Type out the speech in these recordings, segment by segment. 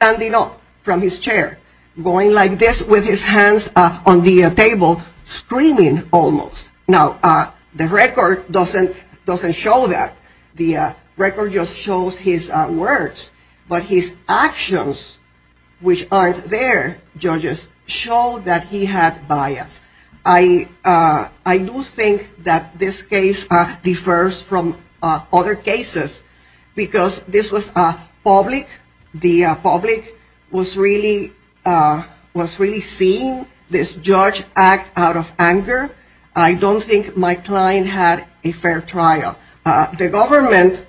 was standing up from his chair, going like this with his hands on the table, screaming almost. Now, the record doesn't show that. The record just shows his words, but his actions, which aren't there, judges, show that he had bias. I do think that this case differs from other cases because this was public. The public was really seeing this judge act out of anger. I don't think my client had a fair trial. The government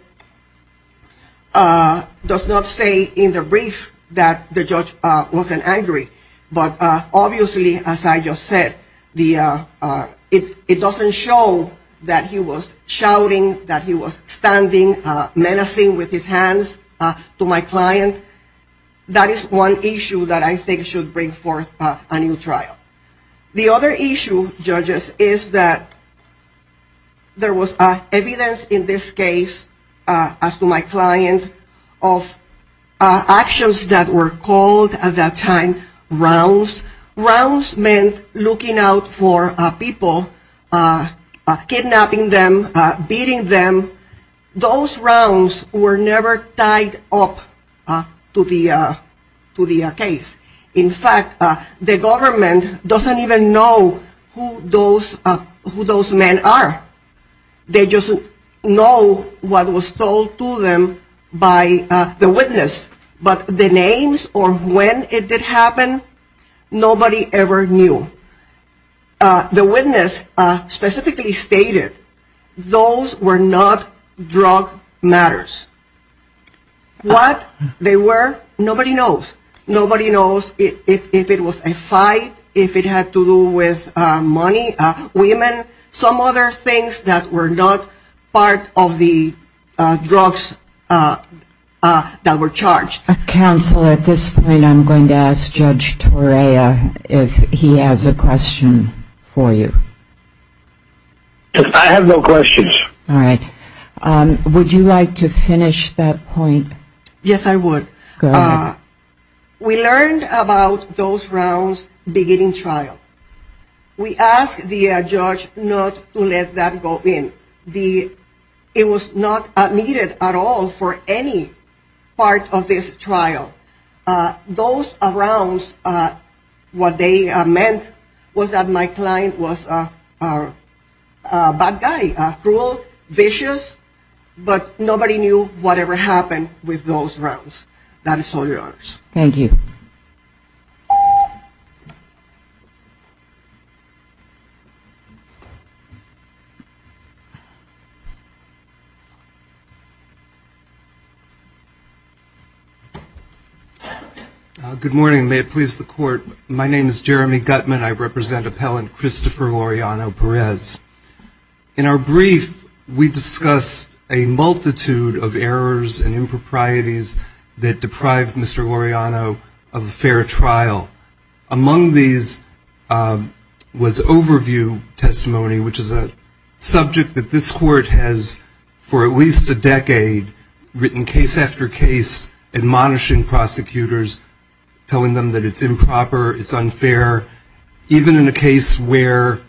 does not say in the brief that the judge was angry. But obviously, as I just said, it doesn't show that he was shouting, that he was standing, menacing with his hands to my client. That is one issue that I think should bring forth a new trial. The other issue, judges, is that there was evidence in this case, as to my client, of actions that were called at that time rounds. Rounds meant looking out for people, kidnapping them, beating them. Those rounds were never tied up to the case. In fact, the government doesn't even know who those men are. They just know what was told to them by the witness. But the names or when it did happen, nobody ever knew. The witness specifically stated, those were not drug matters. What they were, nobody knows. Nobody knows if it was a fight, if it had to do with money, women, some other things that were not part of the drugs that were charged. Counsel, at this point, I'm going to ask Judge Torea if he has a question for you. I have no questions. All right. Would you like to finish that point? Yes, I would. Go ahead. We learned about those rounds beginning trial. We asked the judge not to let that go in. It was not admitted at all for any part of this trial. Those rounds, what they meant was that my client was a bad guy, cruel, vicious, but nobody knew whatever happened with those rounds. That is all, Your Honors. Thank you. Good morning. May it please the Court. My name is Jeremy Gutman. I represent Appellant Christopher Laureano Perez. In our brief, we discussed a multitude of errors and improprieties that deprived Mr. Laureano of a fair trial. Among these was overview testimony, which is a subject that this Court has, for at least a decade, written case after case admonishing prosecutors, telling them that it's improper, it's unfair. Even in a case where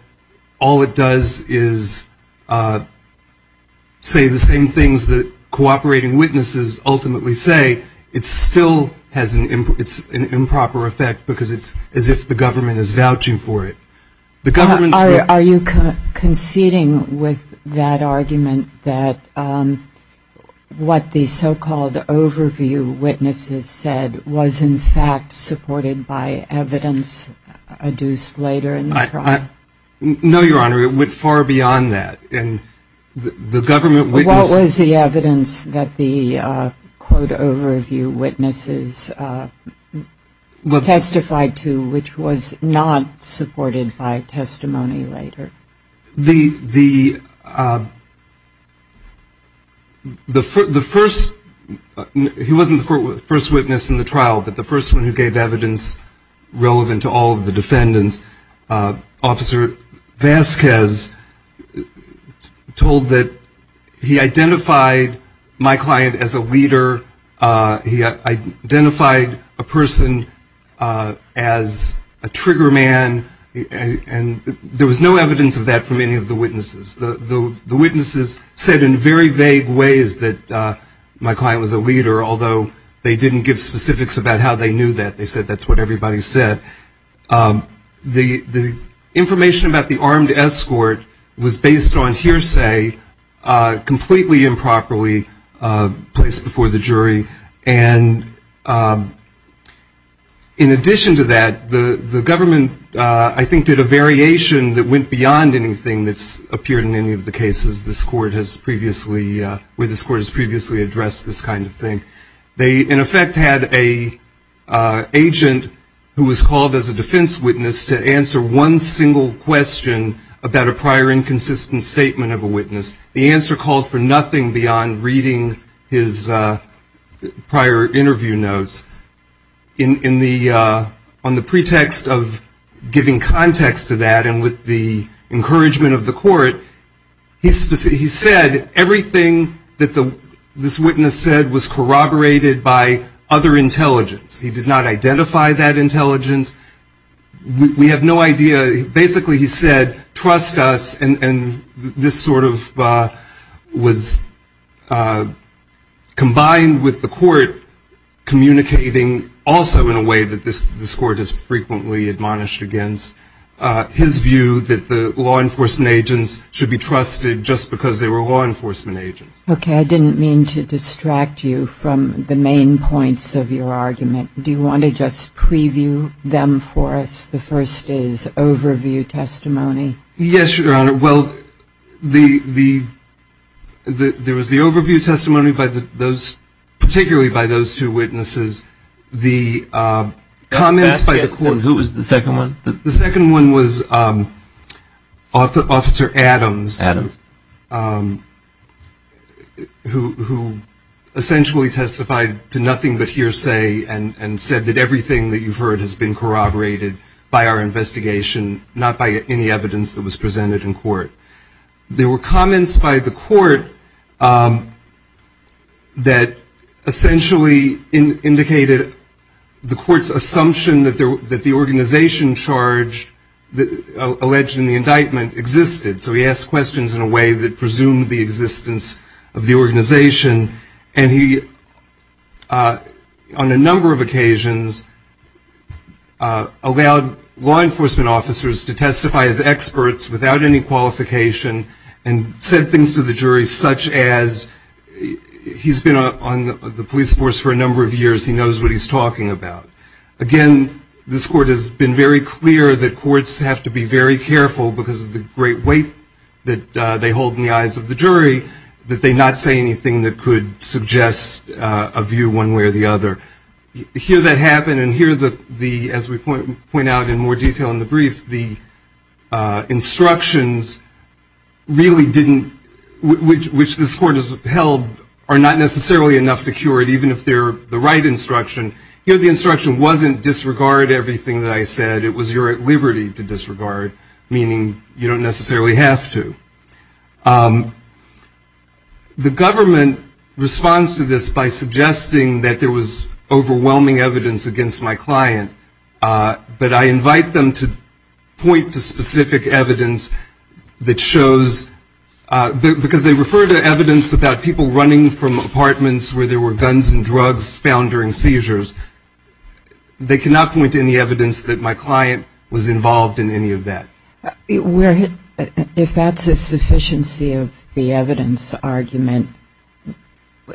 all it does is say the same things that cooperating witnesses ultimately say, it still has an improper effect because it's as if the government is vouching for it. Are you conceding with that argument that what the so-called overview witnesses said was in fact supported by evidence adduced later in the trial? No, Your Honor. It went far beyond that. What was the evidence that the quote, overview witnesses testified to which was not supported by testimony later? The first, he wasn't the first witness in the trial, but the first one who gave evidence relevant to all of the defendants, Officer Vasquez told that he identified my client as a leader. He identified a person as a trigger man, and there was no evidence of that from any of the witnesses. The witnesses said in very vague ways that my client was a leader, although they didn't give specifics about how they knew that. They said that's what everybody said. The information about the armed escort was based on hearsay, completely improperly placed before the jury. And in addition to that, the government, I think, did a variation that went beyond anything that's appeared in any of the cases where this court has previously addressed this kind of thing. They, in effect, had an agent who was called as a defense witness to answer one single question about a prior inconsistent statement of a witness. The answer called for nothing beyond reading his prior interview notes. On the pretext of giving context to that and with the encouragement of the court, he said everything that this witness said was corroborated by other intelligence. He did not identify that intelligence. We have no idea. Basically, he said, trust us. And this sort of was combined with the court communicating also in a way that this court has frequently admonished against his view that the law enforcement agents should be trusted just because they were law enforcement agents. Okay. I didn't mean to distract you from the main points of your argument. Do you want to just preview them for us? The first is overview testimony. Yes, Your Honor. Well, there was the overview testimony particularly by those two witnesses. The comments by the court. Who was the second one? The second one was Officer Adams. Adams. Who essentially testified to nothing but hearsay and said that everything that you've heard has been corroborated by our investigation, not by any evidence that was presented in court. There were comments by the court that essentially indicated the court's assumption that the organization charged, alleged in the indictment, existed. So he asked questions in a way that presumed the existence of the organization. And he, on a number of occasions, allowed law enforcement officers to testify as experts without any qualification and said things to the jury such as he's been on the police force for a number of years. He knows what he's talking about. Again, this court has been very clear that courts have to be very careful, because of the great weight that they hold in the eyes of the jury, that they not say anything that could suggest a view one way or the other. Here that happened, and here, as we point out in more detail in the brief, the instructions really didn't, which this court has held, are not necessarily enough to cure it, even if they're the right instruction. Here the instruction wasn't disregard everything that I said. It was your liberty to disregard, meaning you don't necessarily have to. The government responds to this by suggesting that there was overwhelming evidence against my client, but I invite them to point to specific evidence that shows, because they refer to evidence about people running from apartments where there were guns and drugs found during seizures. They cannot point to any evidence that my client was involved in any of that. If that's a sufficiency of the evidence argument,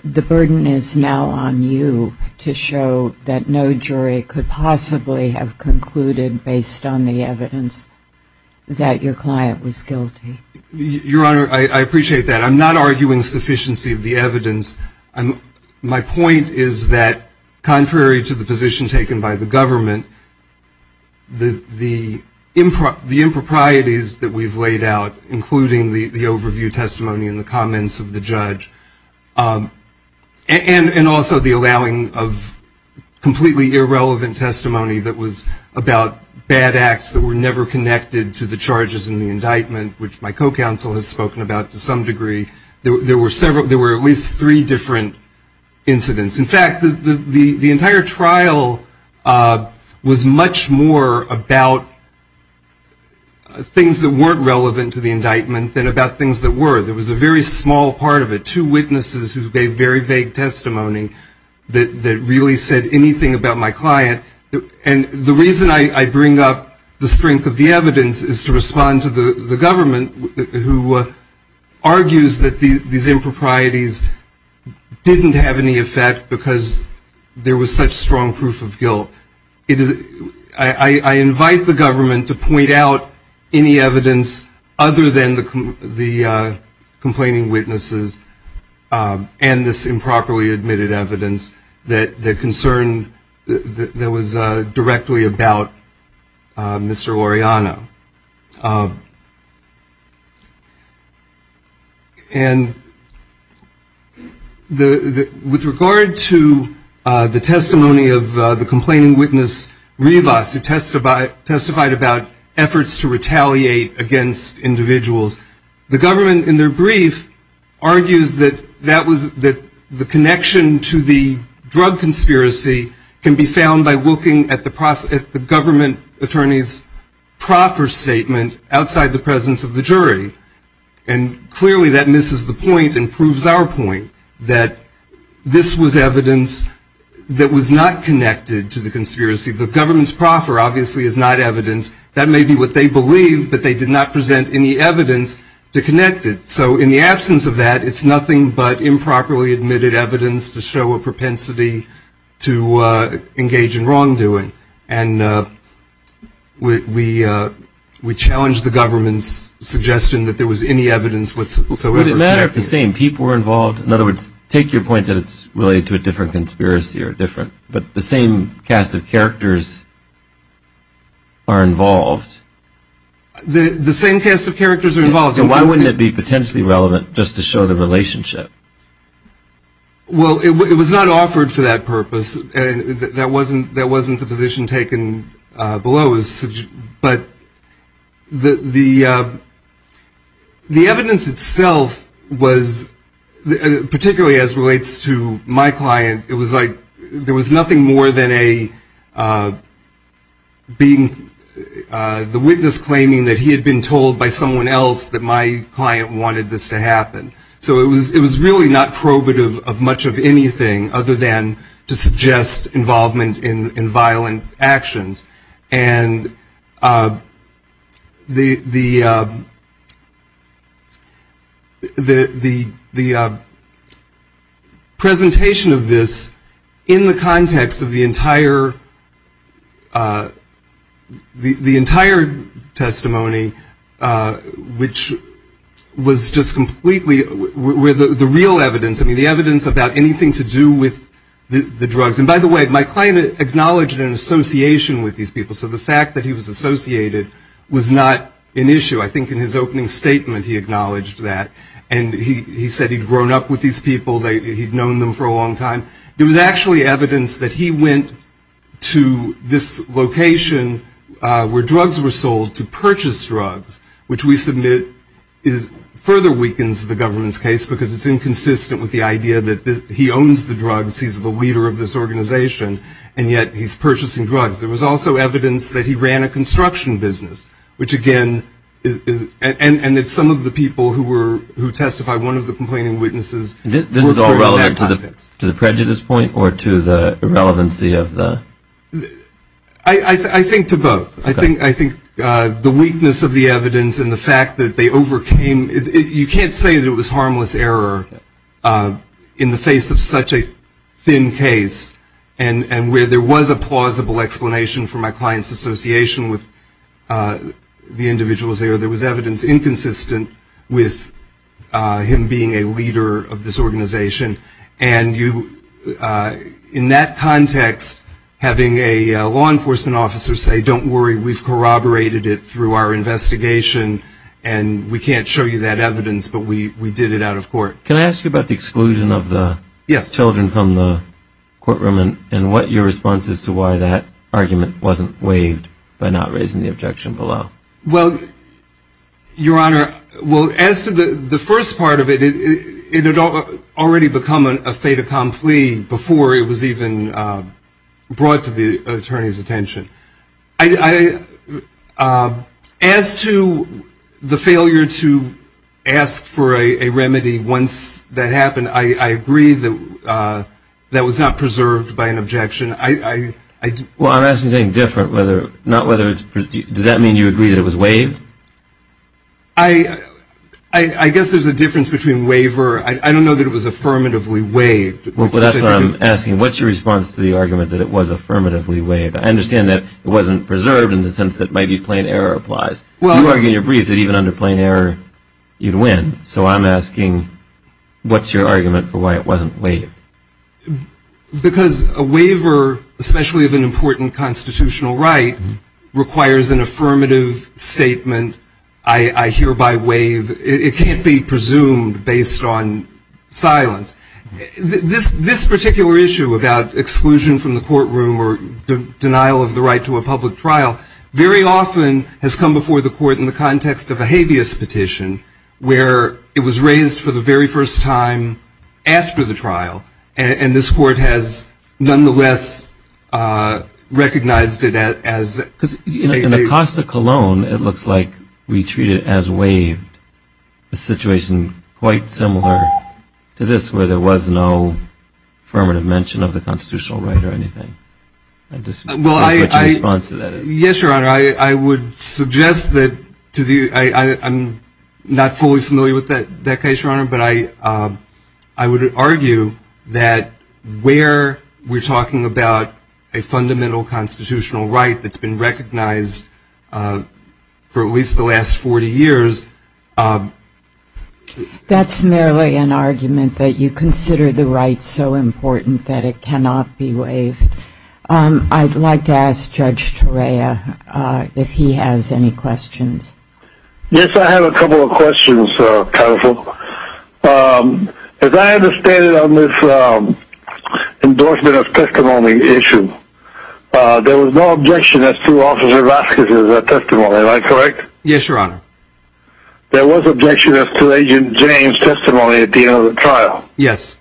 the burden is now on you to show that no jury could possibly have concluded, based on the evidence, that your client was guilty. Your Honor, I appreciate that. I'm not arguing sufficiency of the evidence. My point is that, contrary to the position taken by the government, the improprieties that we've laid out, including the overview testimony and the comments of the judge, and also the allowing of completely irrelevant testimony that was about bad acts that were never connected to the charges in the indictment, which my co-counsel has spoken about to some degree, there were at least three different incidents. In fact, the entire trial was much more about things that weren't relevant to the indictment than about things that were. There was a very small part of it, two witnesses who gave very vague testimony that really said anything about my client. And the reason I bring up the strength of the evidence is to respond to the government, who argues that these improprieties didn't have any effect because there was such strong proof of guilt. I invite the government to point out any evidence other than the complaining witnesses and this improperly admitted evidence that concerned, that was directly about Mr. Loreanna. And with regard to the testimony of the complaining witness, Rivas, who testified about efforts to retaliate against individuals, the government, in their brief, argues that the connection to the drug conspiracy can be found by looking at the government attorney's proper statement outside the presence of the jury. And clearly, that misses the point and proves our point, that this was evidence that was not connected to the conspiracy. The government's proffer, obviously, is not evidence. That may be what they believe, but they did not present any evidence to connect it. So, in the absence of that, it's nothing but improperly admitted evidence to show a propensity to engage in wrongdoing. And we challenge the government's suggestion that there was any evidence whatsoever. Wouldn't it matter if the same people were involved? In other words, take your point that it's related to a different conspiracy or different, but the same cast of characters are involved. The same cast of characters are involved. Why wouldn't it be potentially relevant just to show the relationship? Well, it was not offered for that purpose. That wasn't the position taken below. But the evidence itself was, particularly as it relates to my client, it was like there was nothing more than the witness claiming that he had been told by someone else that my client wanted this to happen. So, it was really not probative of much of anything other than to suggest involvement in violent actions. And the presentation of this in the context of the entire testimony, which was just completely with the real evidence, I mean, the evidence about anything to do with the drugs. And by the way, my client acknowledged an association with these people. So, the fact that he was associated was not an issue. I think in his opening statement he acknowledged that. And he said he'd grown up with these people, he'd known them for a long time. There was actually evidence that he went to this location where drugs were sold to purchase drugs, which we submit further weakens the government's case because it's inconsistent with the idea that he owns the drugs, since he's the leader of this organization, and yet he's purchasing drugs. There was also evidence that he ran a construction business, which again, and that some of the people who testified, one of the complaining witnesses. This is all relevant to the prejudice point or to the relevancy of the? I think to both. I think the weakness of the evidence and the fact that they overcame, you can't say that it was harmless error in the face of such a thin case and where there was a plausible explanation for my client's association with the individuals there. There was evidence inconsistent with him being a leader of this organization. And in that context, having a law enforcement officer say, don't worry, we've corroborated it through our investigation, and we can't show you that evidence, but we did it out of court. Can I ask you about the exclusion of the children from the courtroom and what your response is to why that argument wasn't waived by not raising the objection below? Well, Your Honor, well, as to the first part of it, it had already become a state of conflict before it was even brought to the attorney's attention. As to the failure to ask for a remedy once that happened, I agree that that was not preserved by an objection. Well, I'm asking something different, not whether it's preserved. Does that mean you agree that it was waived? I guess there's a difference between waiver. I don't know that it was affirmatively waived. Well, that's what I'm asking. What's your response to the argument that it was affirmatively waived? I understand that it wasn't preserved in the sense that maybe plain error applies. You argued in your brief that even under plain error, you'd win. So I'm asking, what's your argument for why it wasn't waived? Because a waiver, especially of an important constitutional right, requires an affirmative statement. I hereby waive. It can't be presumed based on silence. This particular issue about exclusion from the courtroom or the denial of the right to a public trial very often has come before the court in the context of a habeas petition, where it was raised for the very first time after the trial, and this court has nonetheless recognized it as a waiver. In Acosta-Cologne, it looks like we treat it as waived, a situation quite similar to this where there was no affirmative mention of the constitutional right or anything. What's your response to that? Yes, Your Honor, I would suggest that to the—I'm not fully familiar with that case, Your Honor, but I would argue that where we're talking about a fundamental constitutional right that's been recognized for at least the last 40 years— That's merely an argument that you consider the right so important that it cannot be waived. I'd like to ask Judge Torea if he has any questions. Yes, I have a couple of questions, counsel. As I understand it on this endorsement of testimony issue, there was no objection as to Officer Vasquez's testimony, am I correct? Yes, Your Honor. There was objection as to Agent James' testimony at the end of the trial? Yes.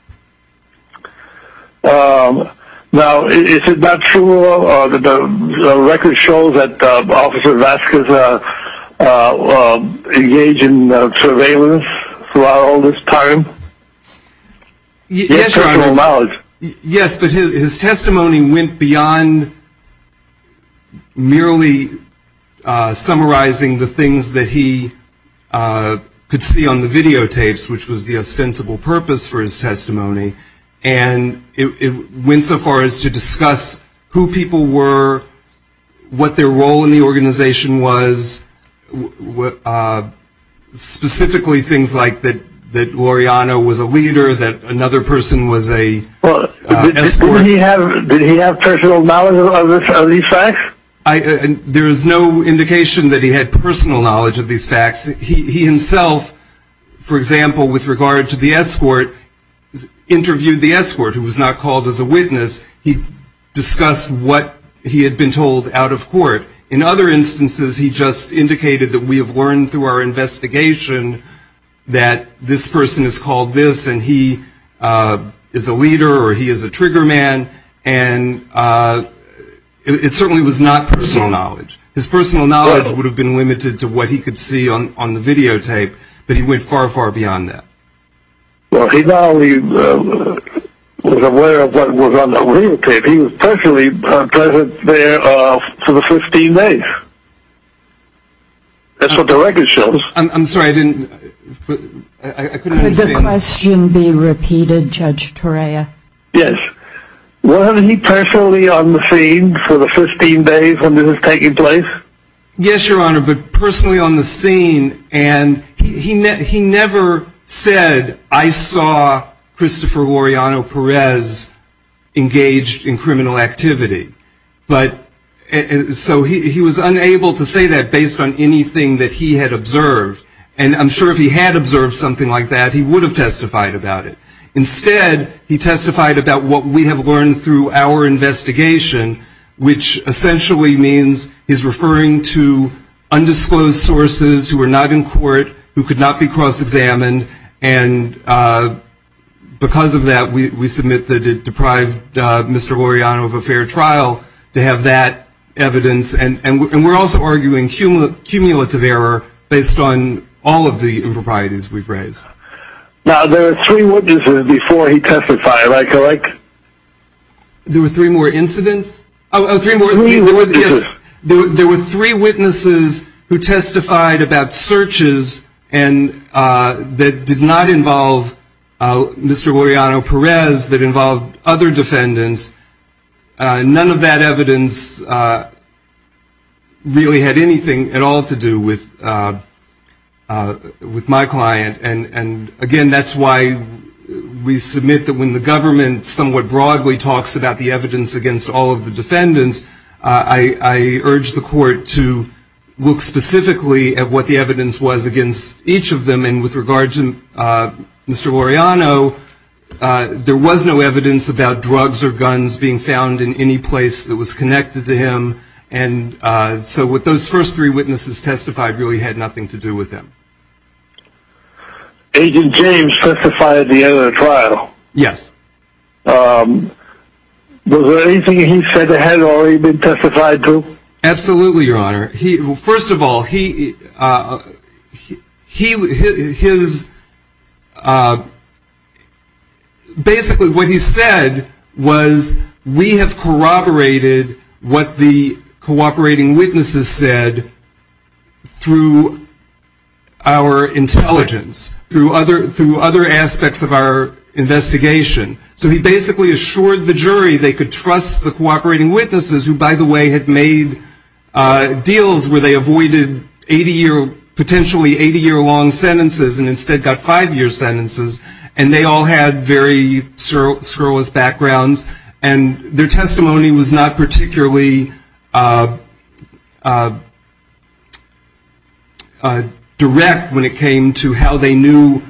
Now, is it not true that the record shows that Officer Vasquez engaged in surveillance throughout all this time? Yes, Your Honor. Yes, but his testimony went beyond merely summarizing the things that he could see on the videotapes, which was the ostensible purpose for his testimony, and it went so far as to discuss who people were, what their role in the organization was, specifically things like that Laureano was a leader, that another person was a— Did he have personal knowledge of these facts? There is no indication that he had personal knowledge of these facts. He himself, for example, with regard to the escort, interviewed the escort, who was not called as a witness. He discussed what he had been told out of court. In other instances, he just indicated that we have learned through our investigation that this person is called this and he is a leader or he is a trigger man, and it certainly was not personal knowledge. His personal knowledge would have been limited to what he could see on the videotape, but he went far, far beyond that. Well, he now was aware of what was on the videotape. He was personally present there for the 15 days. That's what the record shows. I'm sorry, I didn't— Could the question be repeated, Judge Torea? Yes. Was he personally on the scene for the 15 days when this was taking place? Yes, Your Honor, but personally on the scene, and he never said, I saw Christopher Laureano Perez engaged in criminal activity. But, so he was unable to say that based on anything that he had observed, and I'm sure if he had observed something like that, he would have testified about it. Instead, he testified about what we have learned through our investigation, which essentially means he's referring to undisclosed sources who are not in court, who could not be cross-examined, and because of that, we submit that it deprived Mr. Laureano of a fair trial to have that evidence, and we're also arguing cumulative error based on all of the improprieties we've raised. Now, there were three witnesses before he testified, right, correct? There were three more incidents? Three witnesses. There were three witnesses who testified about searches that did not involve Mr. Laureano Perez, that involved other defendants, and none of that evidence really had anything at all to do with my client, and again, that's why we submit that when the government somewhat broadly talks about the evidence against all of the defendants, I urge the court to look specifically at what the evidence was against each of them, and with regards to Mr. Laureano, there was no evidence about drugs or guns being found in any place that was connected to him, and so what those first three witnesses testified really had nothing to do with him. Agent James testified at the end of the trial. Yes. Was there anything he said that hadn't already been testified to? Absolutely, Your Honor. First of all, basically what he said was we have corroborated what the cooperating witnesses said through our intelligence, through other aspects of our investigation, so he basically assured the jury they could trust the cooperating witnesses, who, by the way, had made deals where they avoided potentially 80-year-long sentences and instead got five-year sentences, and they all had very surrealist backgrounds, and their testimony was not particularly direct when it came to how they knew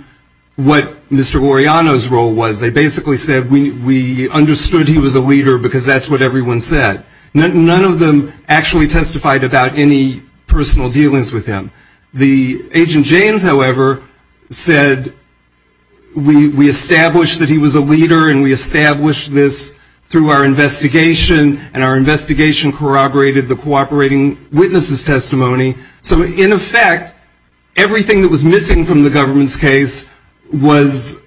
what Mr. Laureano's role was. They basically said we understood he was a leader because that's what everyone said. None of them actually testified about any personal dealings with him. Agent James, however, said we established that he was a leader and we established this through our investigation, and our investigation corroborated the cooperating witnesses' testimony, so, in effect, everything that was missing from the government's case was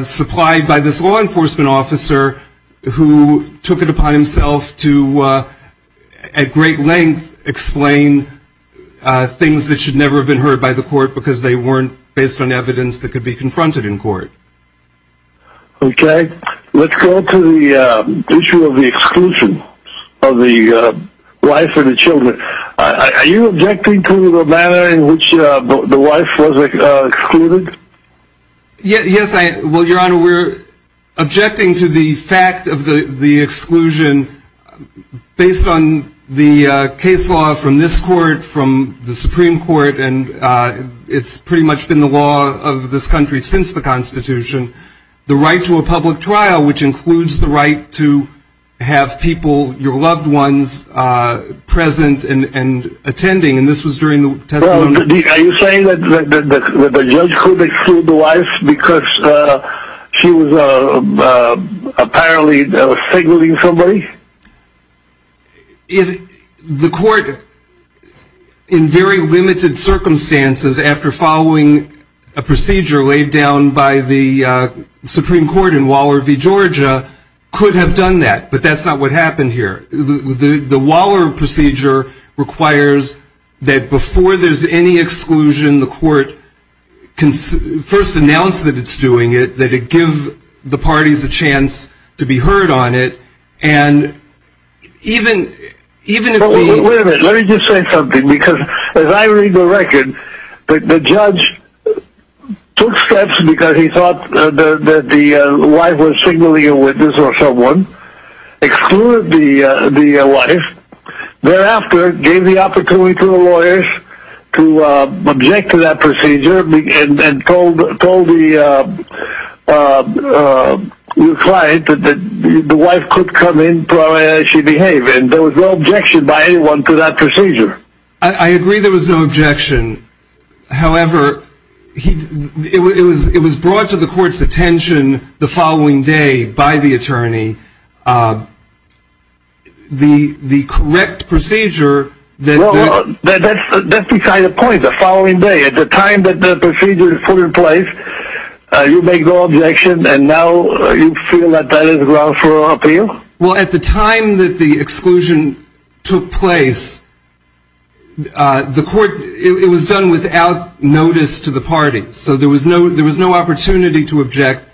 supplied by this law enforcement officer who took it upon himself to, at great length, explain things that should never have been heard by the court because they weren't based on evidence that could be confronted in court. Okay. Let's go to the issue of the exclusion of the wife and the children. Are you objecting to the manner in which the wife was excluded? Yes. Well, Your Honor, we're objecting to the fact of the exclusion based on the case law from this court, from the Supreme Court, and it's pretty much been the law of this country since the Constitution, the right to a public trial, which includes the right to have people, your loved ones, present and attending, and this was during the testimony. Are you saying that the judge could exclude the wife because she was apparently signaling somebody? The court, in very limited circumstances, after following a procedure laid down by the Supreme Court in Waller v. Georgia, could have done that, but that's not what happened here. The Waller procedure requires that before there's any exclusion, the court first announce that it's doing it, that it gives the parties a chance to be heard on it, and even if the... Wait a minute. Let me just say something, because as I read the record, the judge took steps because he thought that the wife was signaling a witness or someone, excluded the wife, thereafter gave the opportunity to the lawyers to object to that procedure and told the client that the wife could come in, probably as she behaved, and there was no objection by anyone to that procedure. I agree there was no objection. However, it was brought to the court's attention the following day by the attorney. The correct procedure that... After the procedure is put in place, you make no objection, and now you feel that that is wrongful appeal? Well, at the time that the exclusion took place, the court... It was done without notice to the parties, so there was no opportunity to object.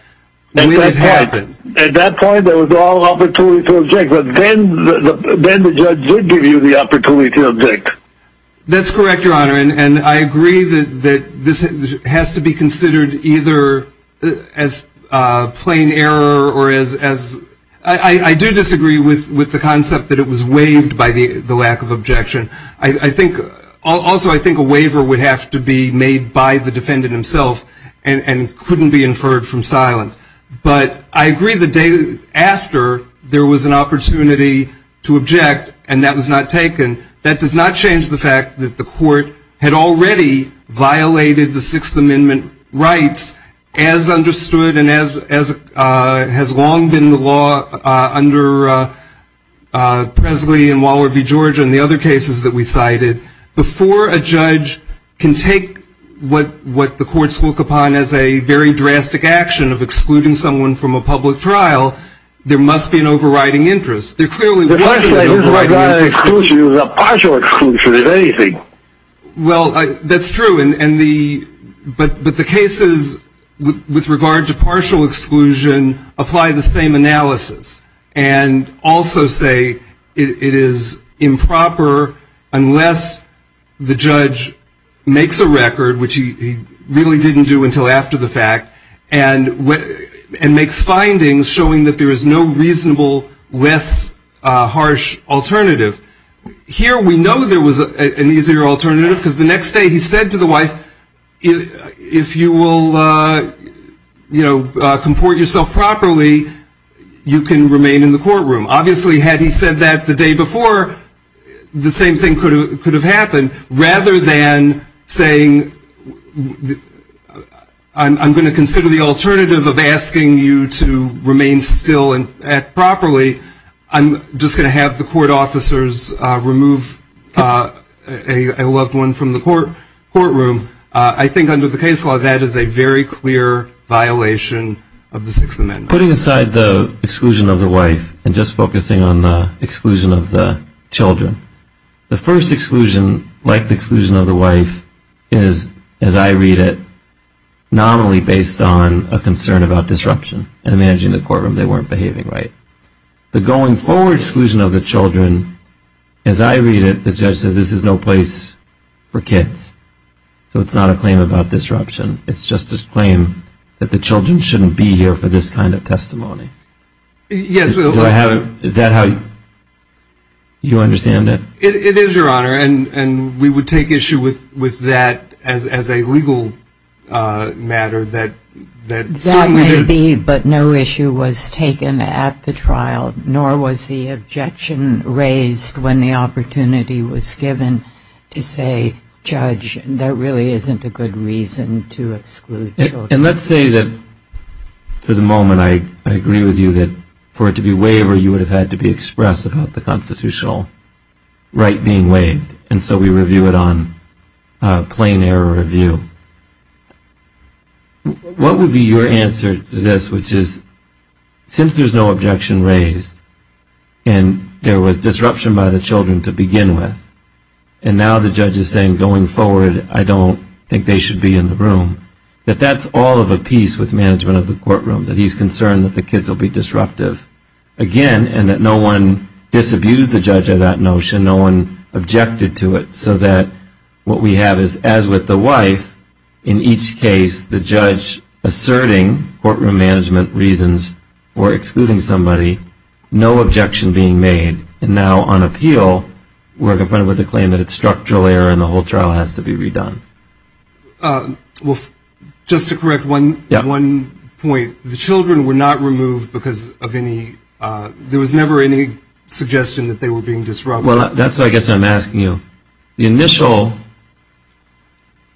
And that happened. At that point, there was all opportunity to object, but then the judge did give you the opportunity to object. That's correct, Your Honor, and I agree that this has to be considered either as plain error or as... I do disagree with the concept that it was waived by the lack of objection. I think... Also, I think a waiver would have to be made by the defendant himself and couldn't be inferred from silence. But I agree that after there was an opportunity to object and that was not taken, that does not change the fact that the court had already violated the Sixth Amendment rights as understood and as has long been the law under Presley and Waller v. Georgia and the other cases that we cited. Before a judge can take what the courts look upon as a very drastic action of excluding someone from a public trial, there must be an overriding interest. There clearly was an overriding interest. It wasn't an exclusion. It was a partial exclusion, if anything. Well, that's true, but the cases with regard to partial exclusion apply the same analysis and also say it is improper unless the judge makes a record, which he really didn't do until after the fact, and makes findings showing that there is no reasonable, less harsh alternative. Here we know there was an easier alternative because the next day he said to the wife, if you will comport yourself properly, you can remain in the courtroom. Obviously, had he said that the day before, the same thing could have happened, rather than saying I'm going to consider the alternative of asking you to remain still and act properly. I'm just going to have the court officers remove a loved one from the courtroom. I think under the case law that is a very clear violation of the Sixth Amendment. Putting aside the exclusion of the wife and just focusing on the exclusion of the children, the first exclusion, like the exclusion of the wife, is, as I read it, nominally based on a concern about disruption and managing the courtroom. They weren't behaving right. The going forward exclusion of the children, as I read it, the judge said this is no place for kids. So it's not a claim about disruption. It's just this claim that the children shouldn't be here for this kind of testimony. Is that how you understand it? It is, Your Honor, and we would take issue with that as a legal matter. That may be, but no issue was taken at the trial, nor was the objection raised when the opportunity was given to say, Judge, there really isn't a good reason to exclude children. And let's say that for the moment I agree with you that for it to be waived or you would have had to be expressed about the constitutional right being waived, and so we review it on claim error review. What would be your answer to this, which is, since there's no objection raised and there was disruption by the children to begin with, and now the judge is saying going forward I don't think they should be in the room, that that's all of a piece with management of the courtroom, that he's concerned that the kids will be disruptive, again, and that no one disabused the judge of that notion, no one objected to it, so that what we have is, as with the wife, in each case, the judge asserting courtroom management reasons for excluding somebody, no objection being made, and now on appeal, we're confronted with a claim that it's structural error and the whole trial has to be redone. Well, just to correct one point. The children were not removed because of any, there was never any suggestion that they were being disruptive. Well, that's what I guess I'm asking you. The initial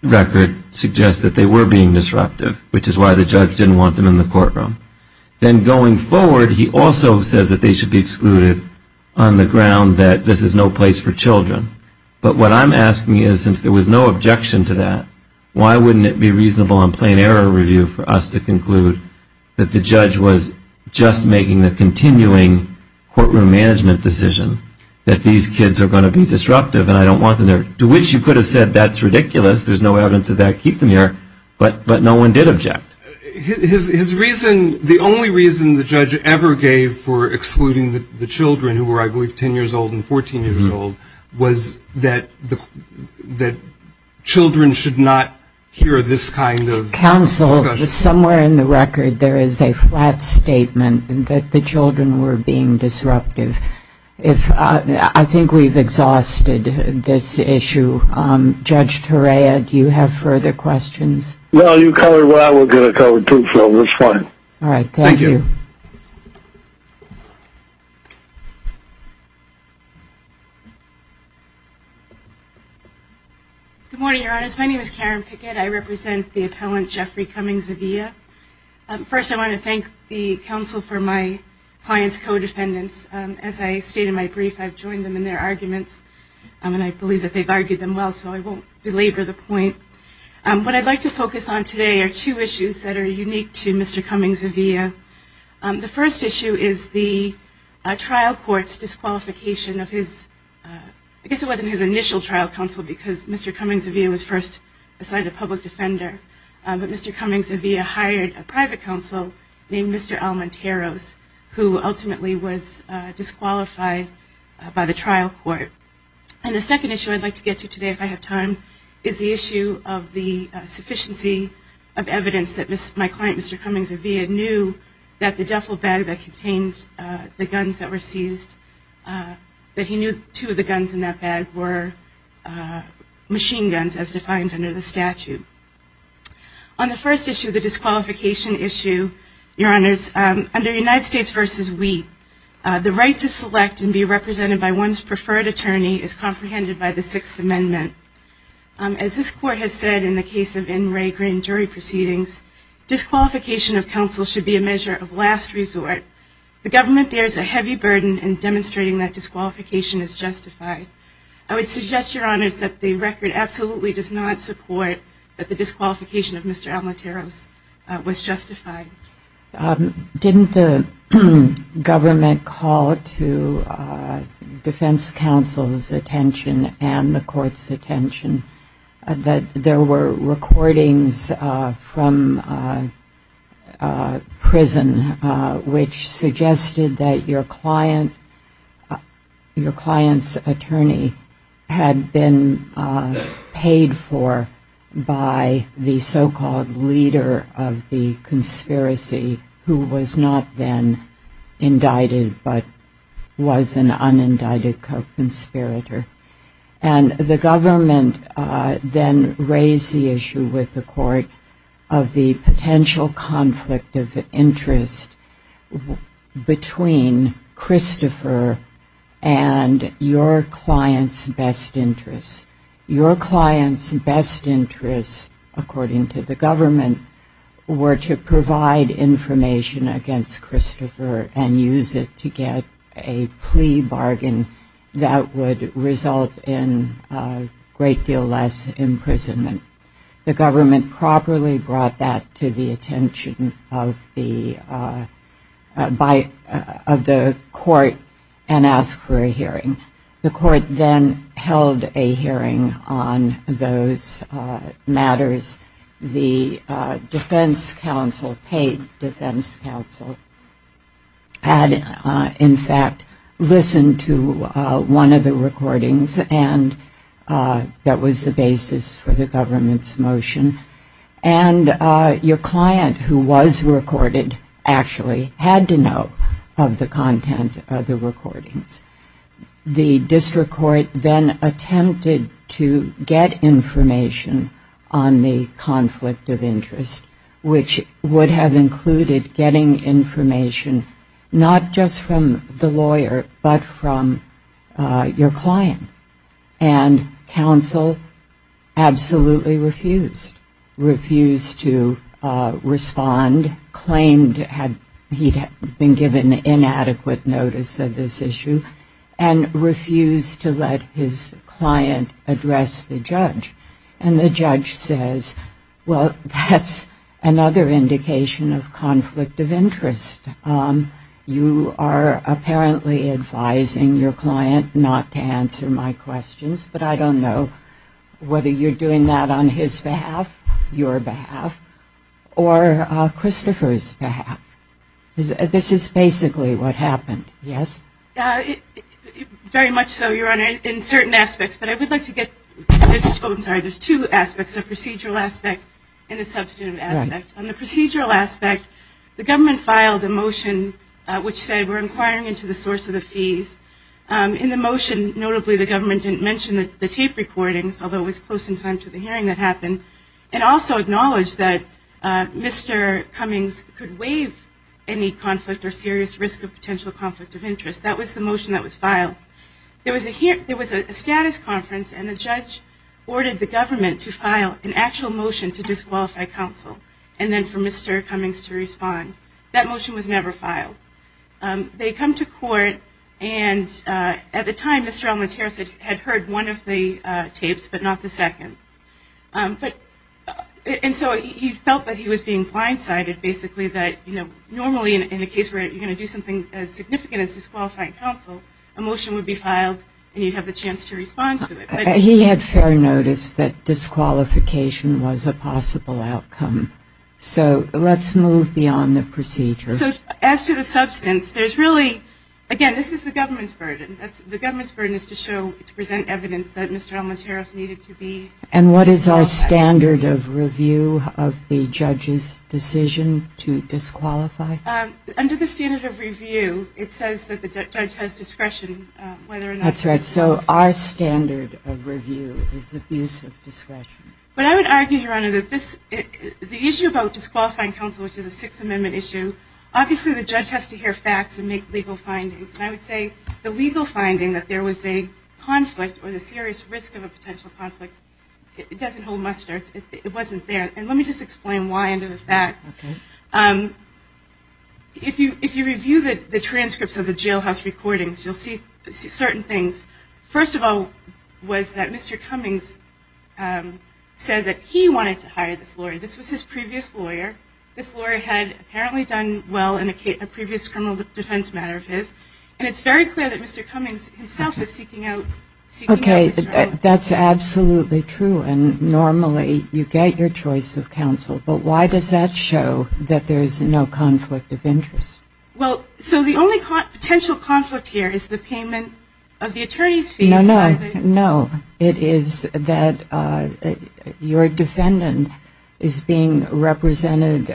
record suggests that they were being disruptive, which is why the judge didn't want them in the courtroom. Then going forward, he also said that they should be excluded on the ground that this is no place for children. But what I'm asking is, if there was no objection to that, why wouldn't it be reasonable in plain error review for us to conclude that the judge was just making a continuing courtroom management decision that these kids are going to be disruptive and I don't want them there, to which you could have said that's ridiculous, there's no evidence of that keeping there, but no one did object. His reason, the only reason the judge ever gave for excluding the children, who were I believe 10 years old and 14 years old, was that children should not hear this kind of discussion. Counsel, somewhere in the record there is a flat statement that the children were being disruptive. I think we've exhausted this issue. Judge Torea, do you have further questions? No, you covered what I was going to cover too, so it's fine. All right, thank you. Good morning, Your Honors. My name is Karen Pickett. I represent the appellant Jeffrey Cummings-Aguirre. First I want to thank the counsel for my client's co-descendants. As I stated in my brief, I've joined them in their arguments, and I believe that they've argued them well, so I won't belabor the point. What I'd like to focus on today are two issues that are unique to Mr. Cummings-Aguirre. The first issue is the trial court's disqualification of his – I guess it wasn't his initial trial counsel because Mr. Cummings-Aguirre was first assigned a public defender, but Mr. Cummings-Aguirre hired a private counsel named Mr. Almenteros, who ultimately was disqualified by the trial court. And the second issue I'd like to get to today if I have time is the issue of the sufficiency of evidence that my client, Mr. Cummings-Aguirre, knew that the defile bag that contained the guns that were seized, that he knew two of the guns in that bag were machine guns as defined under the statute. On the first issue, the disqualification issue, Your Honors, under United States v. We, the right to select and be represented by one's preferred attorney is comprehended by the Sixth Amendment. As this court has said in the case of N. Ray Green jury proceedings, disqualification of counsel should be a measure of last resort. The government bears a heavy burden in demonstrating that disqualification is justified. I would suggest, Your Honors, that the record absolutely does not support that the disqualification of Mr. Almenteros was justified. Didn't the government call to defense counsel's attention and the court's attention that there were recordings from prison which suggested that your client's attorney had been paid for by the so-called leader of the conspiracy who was not then indicted but was an unindicted co-conspirator. And the government then raised the issue with the court of the potential conflict of interest between Christopher and your client's best interest. Your client's best interest, according to the government, were to provide information against Christopher and use it to get a plea bargain that would result in a great deal less imprisonment. The government properly brought that to the attention of the court and asked for a hearing. The court then held a hearing on those matters. The defense counsel, paid defense counsel, had in fact listened to one of the recordings and that was the basis for the government's motion. And your client, who was recorded, actually had to know of the content of the recordings. The district court then attempted to get information on the conflict of interest, which would have included getting information not just from the lawyer but from your client. And counsel absolutely refused. Refused to respond, claimed he had been given inadequate notice of this issue, and refused to let his client address the judge. And the judge says, well, that's another indication of conflict of interest. You are apparently advising your client not to answer my questions, but I don't know whether you're doing that on his behalf, your behalf, or Christopher's behalf. This is basically what happened, yes? Very much so, Your Honor, in certain aspects. But I would like to get to two aspects, a procedural aspect and a substantive aspect. On the procedural aspect, the government filed a motion which said we're inquiring into the source of the fees. In the motion, notably the government didn't mention the tape recordings, although it was close in time to the hearing that happened, and also acknowledged that Mr. Cummings could waive any conflict or serious risk of potential conflict of interest. That was the motion that was filed. There was a status conference, and the judge ordered the government to file an actual motion to disqualify counsel, and then for Mr. Cummings to respond. That motion was never filed. They come to court, and at the time, Mr. Almaterras had heard one of the tapes, but not the second. And so he felt that he was being blindsided, basically, that normally in a case where you're going to do something as significant as disqualify counsel, a motion would be filed, and you'd have the chance to respond to it. He had fair notice that disqualification was a possible outcome. So let's move beyond the procedure. So as to the substance, there's really, again, this is the government's burden. The government's burden is to present evidence that Mr. Almaterras needed to be- And what is our standard of review of the judge's decision to disqualify? Under the standard of review, it says that the judge has discretion whether or not- That's right. So our standard of review is the use of discretion. But I would argue, Your Honor, that the issue about disqualifying counsel, which is a Sixth Amendment issue, obviously the judge has to hear facts and make legal findings. And I would say the legal finding that there was a conflict or the serious risk of a potential conflict, it doesn't hold mustard. It wasn't there. And let me just explain why and the facts. If you review the transcripts of the jailhouse recordings, you'll see certain things. First of all was that Mr. Cummings said that he wanted to hire this lawyer. This was his previous lawyer. This lawyer had apparently done well in a previous criminal defense matter of his. And it's very clear that Mr. Cummings himself was seeking out- Okay. That's absolutely true. And normally you get your choice of counsel. But why does that show that there is no conflict of interest? Well, so the only potential conflict here is the payment of the attorney's fee- No, no. It is that your defendant is being represented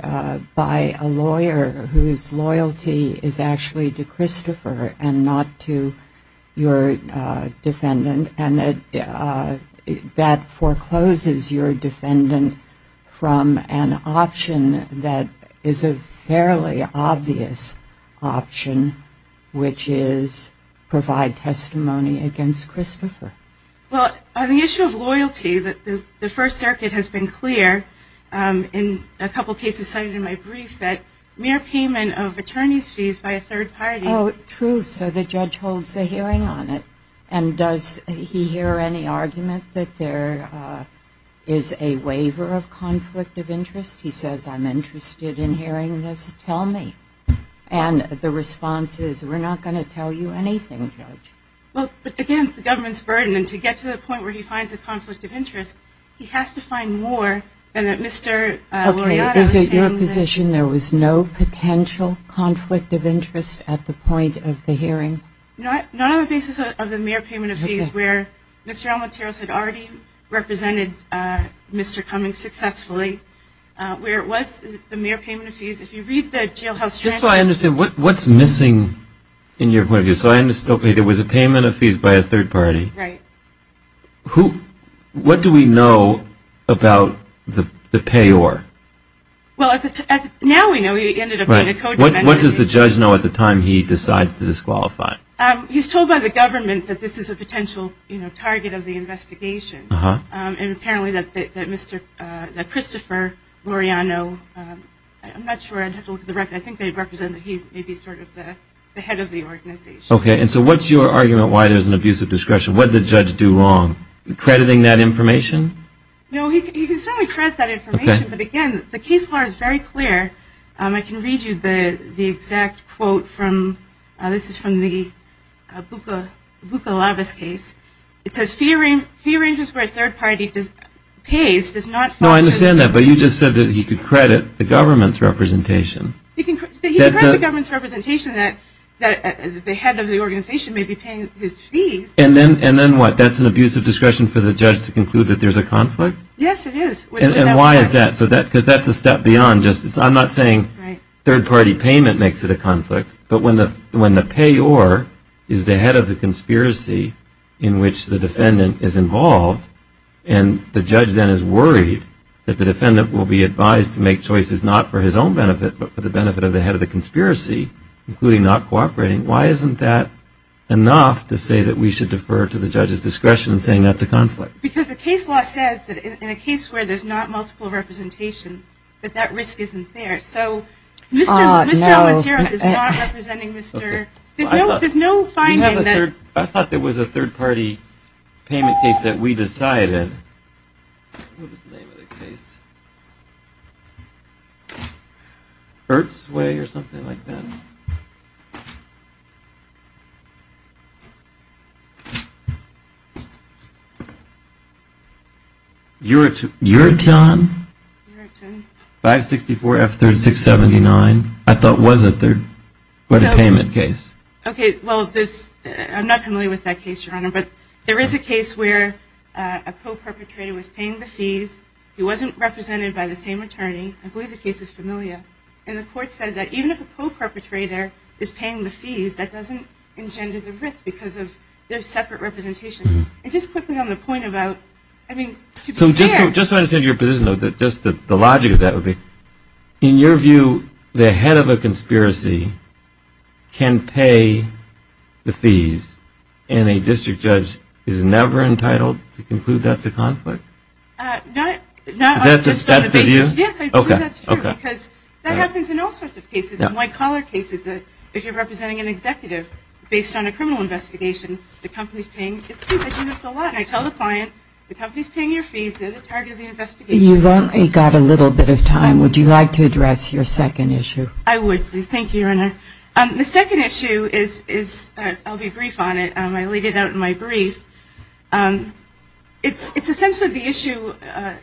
by a lawyer whose loyalty is actually to Christopher and not to your defendant. And that forecloses your defendant from an option that is a fairly obvious option, which is provide testimony against Christopher. Well, on the issue of loyalty, the First Circuit has been clear in a couple cases cited in my brief that mere payment of attorney's fees by a third party- Oh, true. So the judge holds the hearing on it. And does he hear any argument that there is a waiver of conflict of interest? He says, I'm interested in hearing this. Tell me. And the response is, we're not going to tell you anything, Judge. Well, but again, it's the government's burden. And to get to the point where he finds a conflict of interest, he has to find more than that Mr. Loyola- Okay. Is it your position there was no potential conflict of interest at the point of the hearing? Not on the basis of the mere payment of fees, where Mr. Almateros had already represented Mr. Cummings successfully. Where it was the mere payment of fees. If you read the jailhouse transcript- Just so I understand, what's missing in your point of view? So I understood it was a payment of fees by a third party. Right. What do we know about the payor? Well, now we know he ended up being a co-defendant. What does the judge know at the time he decides to disqualify? He's told by the government that this is a potential target of the investigation. And apparently that Christopher Loreano- I'm not sure. I think they represent that he may be sort of the head of the organization. Okay. And so what's your argument why there's an abuse of discretion? What did the judge do wrong? Crediting that information? No, he did not credit that information. Okay. But again, the case file is very clear. I can read you the exact quote from- This is from the Bukalavas case. It says, he arranges where a third party pays- Well, I understand that, but you just said that he could credit the government's representation. He could credit the government's representation that the head of the organization may be paying his fees. And then what? That's an abuse of discretion for the judge to conclude that there's a conflict? Yes, it is. And why is that? Because that's a step beyond just- I'm not saying third party payment makes it a conflict, but when the payor is the head of the conspiracy in which the defendant is involved, and the judge then is worried that the defendant will be advised to make choices not for his own benefit, but for the benefit of the head of the conspiracy, including not cooperating, why isn't that enough to say that we should defer to the judge's discretion saying that's a conflict? Because the case law says that in a case where there's not multiple representation, that that risk isn't there. So, Mr. Altero is not representing Mr.- There's no finding that- I thought there was a third party payment case that we decided. What was the name of the case? Earth's Way or something like that? Eurotown? Eurotown. 564F3679. I thought was a third party payment case. Okay, well, I'm not familiar with that case, Your Honor, but there is a case where a co-perpetrator was paying the fees. He wasn't represented by the same attorney. I believe the case is familiar. And the court said that even if a co-perpetrator is paying the fees, that doesn't engender the risk because there's separate representation. It just puts it on the point about- So, just to understand your position a little bit, just the logic of that would be, in your view, the head of a conspiracy can pay the fees, and a district judge is never entitled to conclude that's a conflict? That's true because that happens in all sorts of cases. In white-collar cases, if you're representing an executive, based on a criminal investigation, the company's paying the fees. I've seen this a lot. I tell the client, the company's paying your fees. They're the target of the investigation. You've only got a little bit of time. Would you like to address your second issue? I would, thank you, Your Honor. The second issue is- I'll be brief on it. I'll leave it out in my brief. It's essentially the issue-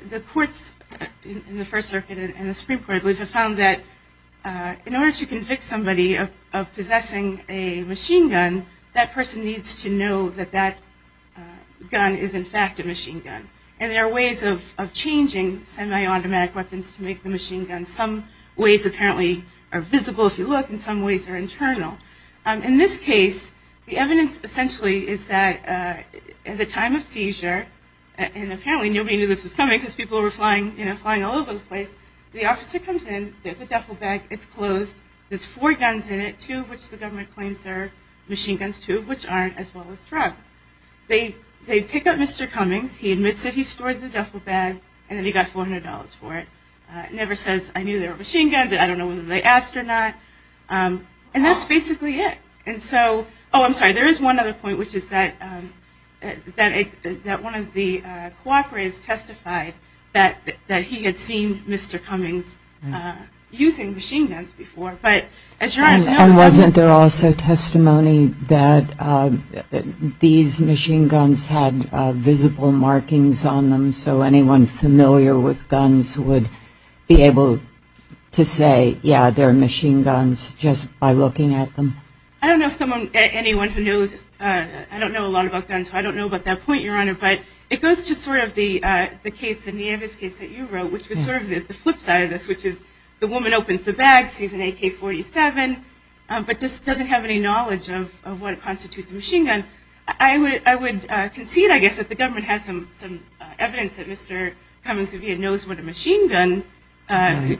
the courts in the First Circuit and the Supreme Court have found that in order to convict somebody of possessing a machine gun, that person needs to know that that gun is, in fact, a machine gun. And there are ways of changing semi-automatic weapons to make the machine gun. Some ways, apparently, are visible to look, and some ways are internal. In this case, the evidence, essentially, is that in the time of seizure, and apparently nobody knew this was coming because people were flying all over the place, the officer comes in, gets a duffel bag, it's closed, there's four guns in it, two of which the government claims are machine guns, two of which aren't, as well as drugs. They pick up Mr. Cummings, he admits that he stored the duffel bag, and then he got $400 for it. He never says, I knew they were machine guns, I don't know whether they asked or not. And that's basically it. Oh, I'm sorry, there is one other point, which is that one of the cooperatives testified that he had seen Mr. Cummings using machine guns before. And wasn't there also testimony that these machine guns had visible markings on them so anyone familiar with guns would be able to say, yeah, they're machine guns, just by looking at them? I don't know anyone who knows, I don't know a lot about guns, so I don't know about that point, Your Honor, but it goes to sort of the case, the case that you wrote, which is sort of the flip side of this, which is the woman opens the bag, sees an AK-47, but just doesn't have any knowledge of what constitutes a machine gun. I would concede, I guess, that the government has some evidence that Mr. Cummings, if he knows what a machine gun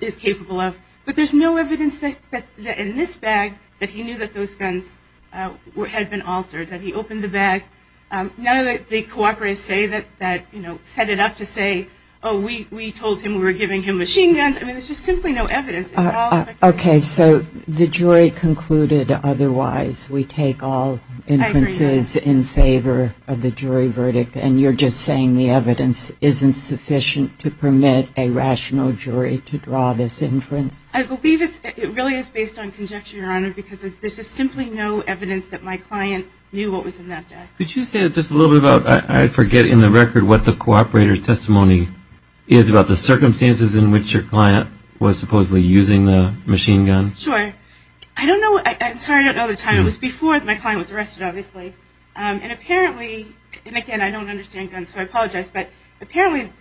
is capable of, but there's no evidence in this bag that he knew that those guns had been altered, that he opened the bag. None of the cooperatives say that, you know, set it up to say, oh, we told him we were giving him machine guns. I mean, there's just simply no evidence. Okay, so the jury concluded otherwise. We take all inferences in favor of the jury verdict, and you're just saying the evidence isn't sufficient to permit a rational jury to draw this inference? I believe it really is based on conjecture, Your Honor, because there's just simply no evidence that my client knew what was in that bag. Could you say just a little bit about, I forget in the record what the cooperator's testimony is about the circumstances in which your client was supposedly using the machine gun? Sure. I don't know. I'm sorry I don't know the time. It was before my client was arrested, obviously, and apparently, and again, I don't understand guns, so I apologize, but apparently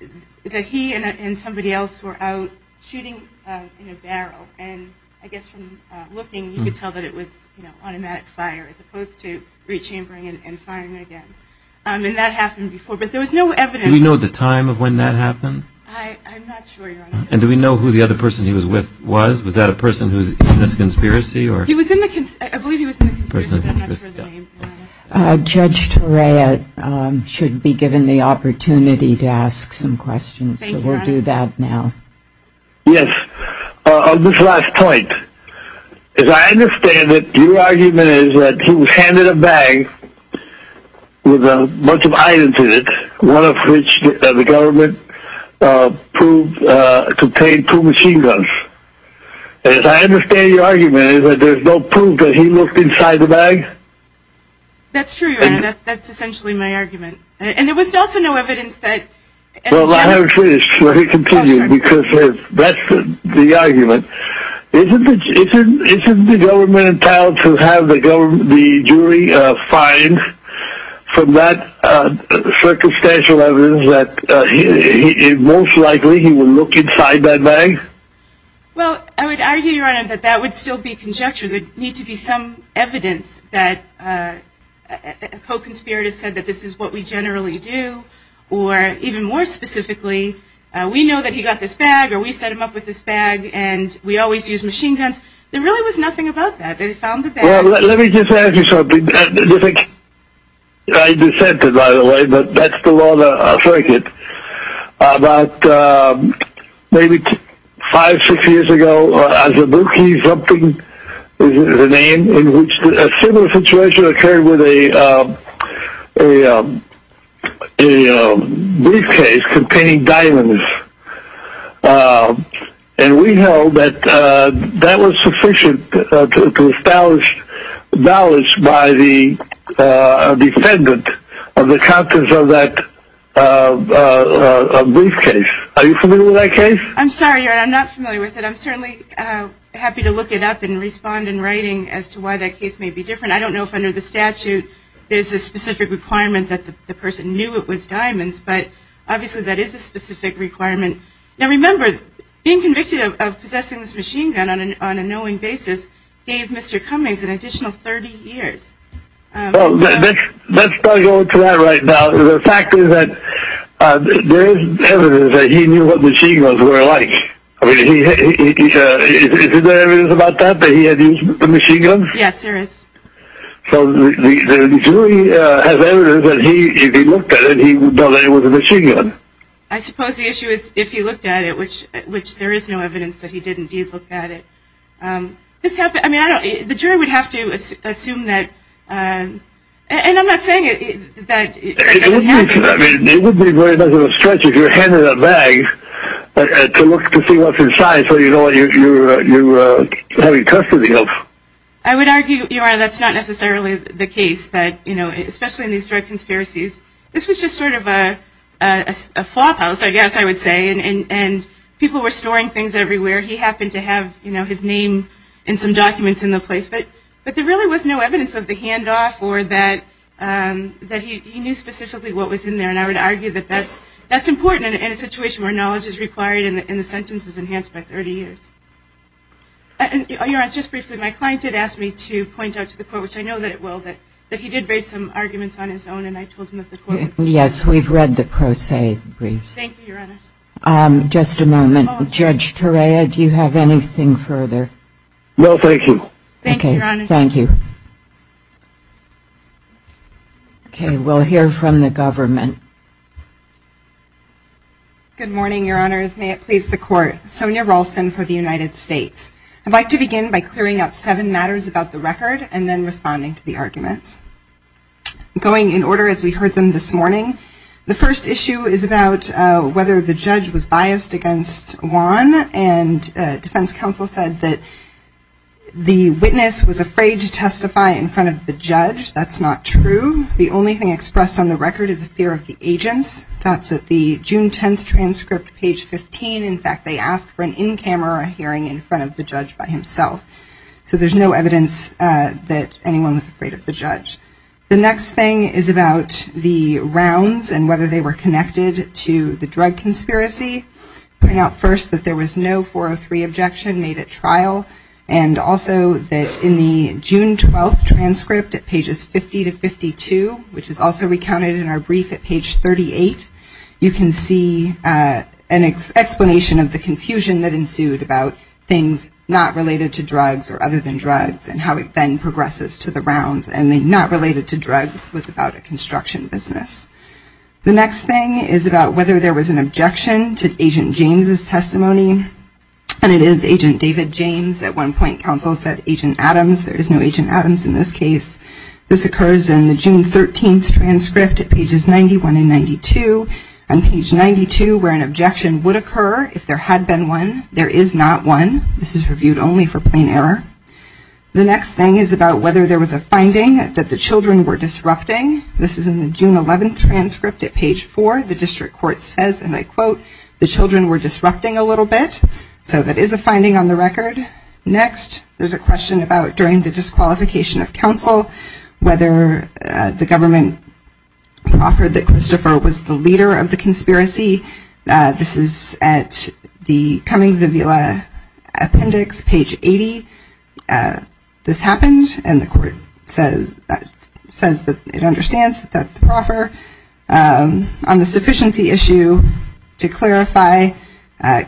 he and somebody else were out shooting in a barrel, and I guess from looking, you could tell that it was automatic fire as opposed to re-chambering and firing again, and that happened before, but there was no evidence. Do you know the time of when that happened? I'm not sure, Your Honor. And do we know who the other person he was with was? Was that a person who was in this conspiracy? He was in the conspiracy. I believe he was in the conspiracy. Judge Torea should be given the opportunity to ask some questions, so we'll do that now. Yes. On this last point, as I understand it, your argument is that he was handed a bag with a bunch of items in it, one of which the government proved contained two machine guns. As I understand your argument, there's no proof that he looked inside the bag? That's true, Your Honor. That's essentially my argument. And there was also no evidence that… Well, I haven't finished. Let me continue, because that's the argument. Isn't the government entitled to have the jury find from that circumstantial evidence that most likely he would look inside that bag? Well, I would argue, Your Honor, that that would still be conjecture. There would need to be some evidence that a co-conspirator said that this is what we generally do, or even more specifically, we know that he got this bag, or we set him up with this bag, and we always use machine guns. There really was nothing about that. Let me just add to something. I dissented by the way, but that's the law of the circuit. About maybe five, six years ago, as a rookie, something, the name, a similar situation occurred with a briefcase containing diamonds. And we know that that was sufficient to establish knowledge by the defendant of the contents of that briefcase. Are you familiar with that case? I'm sorry, Your Honor, I'm not familiar with it. I'm certainly happy to look it up and respond in writing as to why that case may be different. I don't know if under the statute there's a specific requirement that the person knew it was diamonds, but obviously that is a specific requirement. Now remember, being convicted of possessing this machine gun on a knowing basis gave Mr. Cummings an additional 30 years. Well, let's not go into that right now. The fact is that there is evidence that he knew what machine guns were like. I mean, is there evidence about that, that he had used machine guns? Yes, there is. So the jury has evidence that if he looked at it, he would know that it was a machine gun? I suppose the issue is if he looked at it, which there is no evidence that he didn't look at it. I mean, the jury would have to assume that, and I'm not saying that... I mean, it wouldn't be very much of a stretch if you handed that bag to look to see what's inside so you know what you're having custody of. I would argue, Yaron, that's not necessarily the case. But, you know, especially in these direct conspiracies, this was just sort of a flophouse, I guess I would say, and people were storing things everywhere. He happened to have, you know, his name and some documents in the place. But there really was no evidence of the handoff or that he knew specifically what was in there. And I would argue that that's important in a situation where knowledge is required and the sentence is enhanced by 30 years. And, Yaron, just briefly, my client did ask me to point out to the court, which I know that it will, that if he did raise some arguments on his own, and I told him that the court... Yes, we've read the pro se brief. Thank you, Your Honor. Just a moment. Judge Torea, do you have anything further? No, thank you. Thank you, Your Honor. Okay, thank you. Okay, we'll hear from the government. Good morning, Your Honors. May it please the Court. Sonya Ralston for the United States. I'd like to begin by clearing up seven matters about the record and then responding to the arguments. I'm going in order as we heard them this morning. The first issue is about whether the judge was biased against Juan, and defense counsel said that the witness was afraid to testify in front of the judge. That's not true. The only thing expressed on the record is a fear of the agent. That's at the June 10th transcript, page 15. In fact, they asked for an in-camera hearing in front of the judge by himself. So there's no evidence that anyone was afraid of the judge. The next thing is about the rounds and whether they were connected to the drug conspiracy. Point out first that there was no 403 objection made at trial, and also that in the June 12th transcript at pages 50 to 52, which is also recounted in our brief at page 38, you can see an explanation of the confusion that ensued about things not related to drugs or other than drugs and how it then progresses to the rounds and not related to drugs was about a construction business. The next thing is about whether there was an objection to Agent James' testimony, and it is Agent David James. At one point, counsel said Agent Adams. There is no Agent Adams in this case. This occurs in the June 13th transcript at pages 91 and 92. On page 92, where an objection would occur if there had been one, there is not one. This is reviewed only for plain error. The next thing is about whether there was a finding that the children were disrupting. This is in the June 11th transcript at page 4. The district court says, and I quote, the children were disrupting a little bit. So that is a finding on the record. Next, there is a question about during the disqualification of counsel, whether the government proffered that Christopher was the leader of the conspiracy. This is at the Cummings and Villa appendix, page 80. This happened, and the court says that it understands that that is the proffer. On the sufficiency issue, to clarify,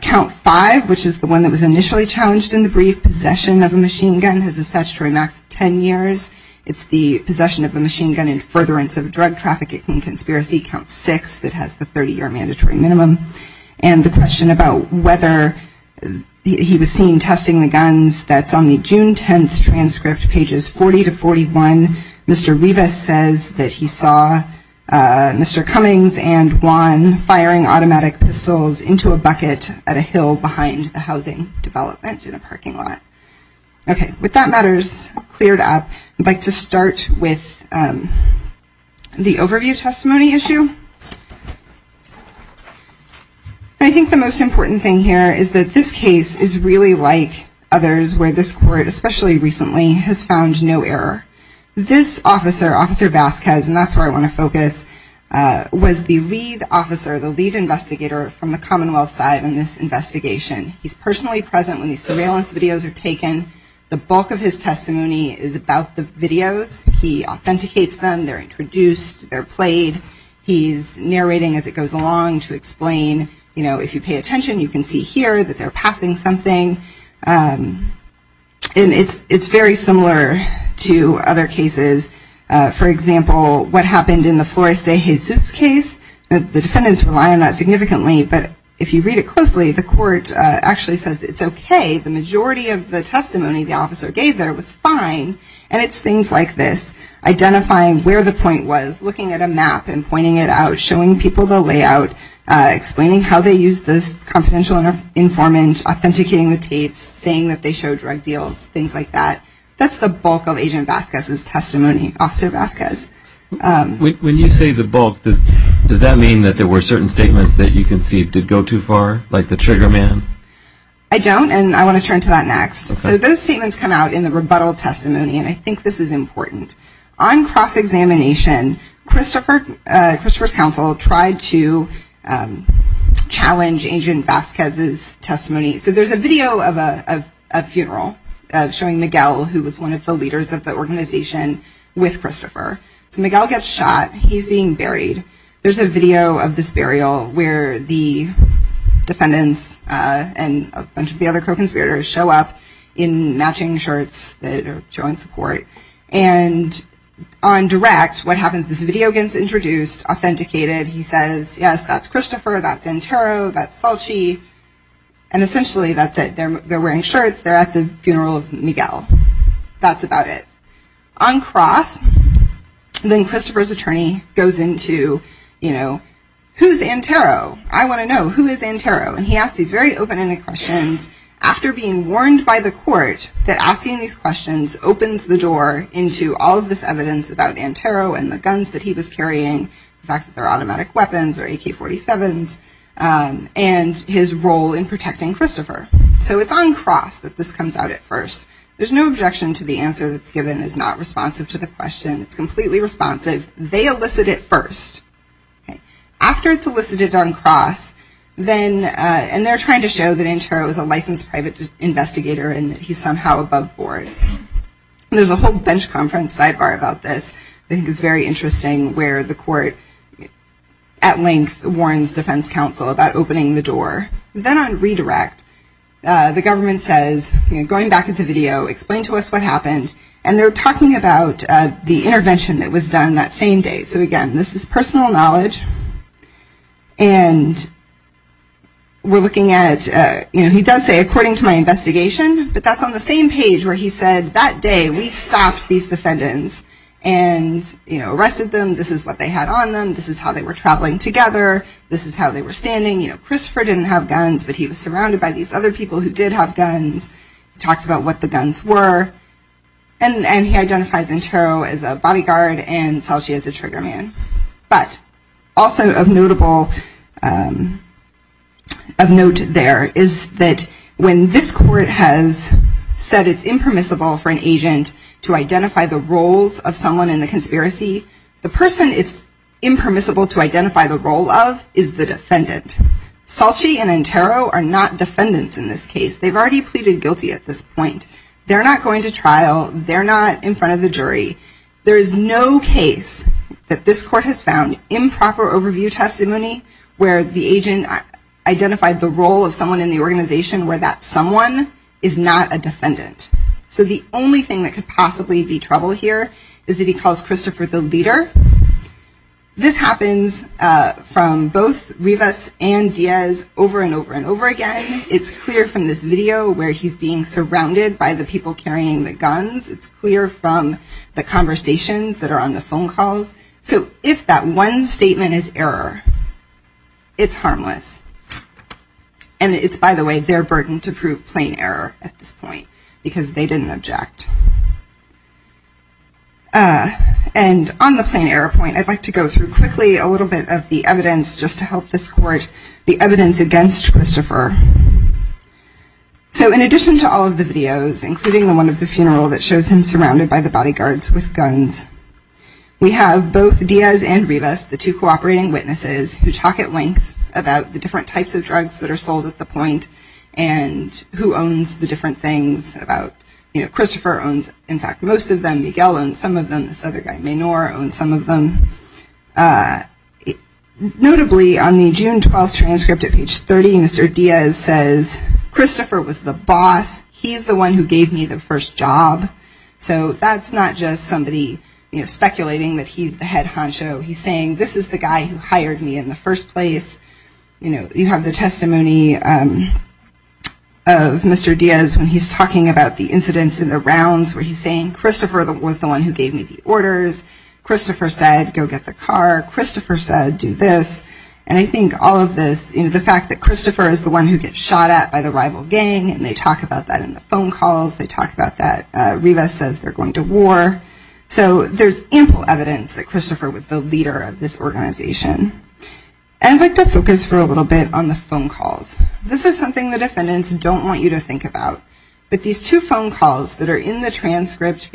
count 5, which is the one that was initially challenged in the brief, possession of a machine gun, has assessed for a max of 10 years. It's the possession of a machine gun in furtherance of drug traffic in conspiracy, count 6, that has the 30-year mandatory minimum. And the question about whether he was seen testing the guns, that's on the June 10th transcript, pages 40 to 41. Mr. Rivas says that he saw Mr. Cummings and Juan firing automatic pistols into a bucket at a hill behind the housing development in a parking lot. Okay, with that matters cleared up, I'd like to start with the overview testimony issue. I think the most important thing here is that this case is really like others where this court, especially recently, has found no error. This officer, Officer Vasquez, and that's where I want to focus, was the lead officer, the lead investigator from the Commonwealth side in this investigation. He's personally present when these surveillance videos are taken. The bulk of his testimony is about the videos. He authenticates them, they're introduced, they're played. So if you pay attention, you can see here that they're passing something. And it's very similar to other cases. For example, what happened in the Flores de Jesus case, the defendants rely on that significantly, but if you read it closely, the court actually says it's okay. The majority of the testimony the officer gave there was fine, and it's things like this, identifying where the point was, looking at a map and pointing it out, showing people the layout, explaining how they used this confidential informant, authenticating the tapes, saying that they showed drug deals, things like that. That's the bulk of Agent Vasquez's testimony, Officer Vasquez. When you say the bulk, does that mean that there were certain statements that you can see did go too far, like the trigger man? I don't, and I want to turn to that next. So those statements come out in the rebuttal testimony, and I think this is important. On cross-examination, Christopher's counsel tried to challenge Agent Vasquez's testimony. So there's a video of a funeral showing Miguel, who was one of the leaders of the organization, with Christopher. Miguel gets shot. He's being buried. There's a video of this burial where the defendants and a bunch of the other co-conspirators show up in matching shirts that are showing support. And on direct, what happens is the video gets introduced, authenticated. He says, yes, that's Christopher, that's Antero, that's Falchi, and essentially that's it. They're wearing shirts. They're at the funeral of Miguel. That's about it. On cross, then Christopher's attorney goes into, you know, who's Antero? I want to know, who is Antero? And he asks these very open-ended questions. And after being warned by the court that asking these questions opens the door into all of this evidence about Antero and the guns that he was carrying, the fact that they're automatic weapons or AK-47s, and his role in protecting Christopher. So it's on cross that this comes out at first. There's no objection to the answer that's given is not responsive to the question. It's completely responsive. They elicit it first. After it's elicited on cross, and they're trying to show that Antero is a licensed private investigator and that he's somehow above board. There's a whole bench conference sidebar about this that I think is very interesting where the court, at length, warns defense counsel about opening the door. Then on redirect, the government says, going back into video, explain to us what happened. And they're talking about the intervention that was done that same day. So, again, this is personal knowledge. And we're looking at, you know, he does say, according to my investigation. But that's on the same page where he said, that day, we stopped these defendants and, you know, arrested them. This is what they had on them. This is how they were traveling together. This is how they were standing. You know, Christopher didn't have guns, but he was surrounded by these other people who did have guns. He talked about what the guns were. And he identified Antero as a bodyguard and Salchi as a triggerman. But also of note there is that when this court has said it's impermissible for an agent to identify the roles of someone in the conspiracy, the person it's impermissible to identify the role of is the defendant. Salchi and Antero are not defendants in this case. They've already pleaded guilty at this point. They're not going to trial. They're not in front of the jury. There is no case that this court has found improper overview testimony where the agent identified the role of someone in the organization where that someone is not a defendant. So the only thing that could possibly be trouble here is that he calls Christopher the leader. This happens from both Rivas and Diaz over and over and over again. It's clear from this video where he's being surrounded by the people carrying the guns. It's clear from the conversations that are on the phone calls. So if that one statement is error, it's harmless. And it's, by the way, their burden to prove plain error at this point because they didn't object. And on the plain error point, I'd like to go through quickly a little bit of the evidence just to help this court, the evidence against Christopher. So in addition to all of the videos, including the one of the funeral that shows him surrounded by the bodyguards with guns, we have both Diaz and Rivas, the two cooperating witnesses, who talk at length about the different types of drugs that are sold at the point and who owns the different things. Christopher owns, in fact, most of them. Miguel owns some of them. This other guy, Menor, owns some of them. Notably, on the June 12 transcript at page 30, Mr. Diaz says, Christopher was the boss. He's the one who gave me the first job. So that's not just somebody speculating that he's the head honcho. He's saying, this is the guy who hired me in the first place. You have the testimony of Mr. Diaz when he's talking about the incidents in the rounds where he's saying, Christopher was the one who gave me the orders. Christopher said, go get the car. Christopher said, do this. And I think all of this, the fact that Christopher is the one who gets shot at by the rival gang, and they talk about that in the phone calls, they talk about that. Rivas says they're going to war. So there's ample evidence that Christopher was the leader of this organization. And I'd like to focus for a little bit on the phone calls. This is something the defendants don't want you to think about. But these two phone calls that are in the transcripts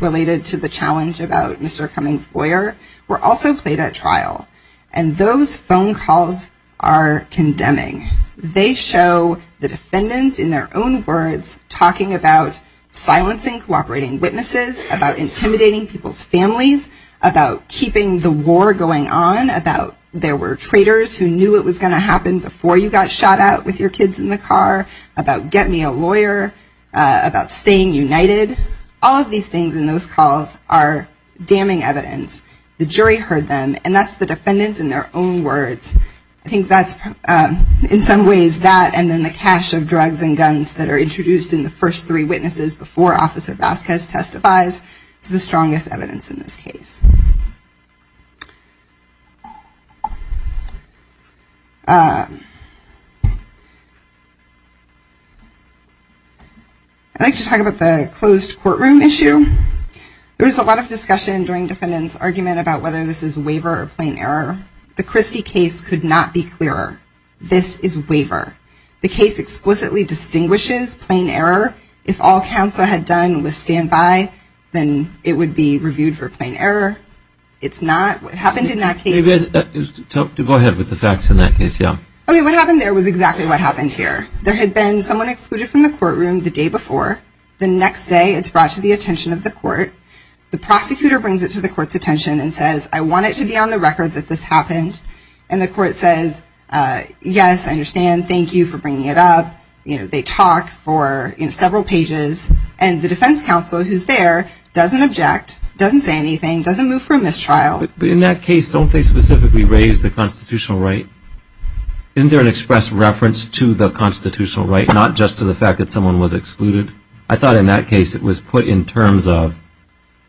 related to the challenge about Mr. Cummings' lawyer were also played at trial. And those phone calls are condemning. They show the defendants in their own words talking about silencing cooperating witnesses, about intimidating people's families, about keeping the war going on, about there were traitors who knew it was going to happen before you got shot at with your kids in the car, about get me a lawyer, about staying united. All of these things in those calls are damning evidence. The jury heard them, and that's the defendants in their own words. I think that's, in some ways, that and then the cache of drugs and guns that are introduced in the first three witnesses before Officer Vasquez testifies is the strongest evidence in this case. I'd like to talk about the closed courtroom issue. There was a lot of discussion during defendants' argument about whether this is waiver or plain error. The Christie case could not be clearer. This is waiver. The case explicitly distinguishes plain error. If all counsel had done was stand by, then it would be reviewed for plain error. It's not. What happened in that case... Go ahead with the facts in that case, yeah. I mean, what happened there was exactly what happened here. There had been someone excluded from the courtroom the day before. The next day, it's brought to the attention of the court. The prosecutor brings it to the court's attention and says, I want it to be on the record that this happened. And the court says, yes, I understand. Thank you for bringing it up. They talk for several pages. And the defense counsel who's there doesn't object, doesn't say anything, doesn't move from this trial. In that case, don't they specifically raise the constitutional right? Isn't there an express reference to the constitutional right, not just to the fact that someone was excluded? I thought in that case it was put in terms of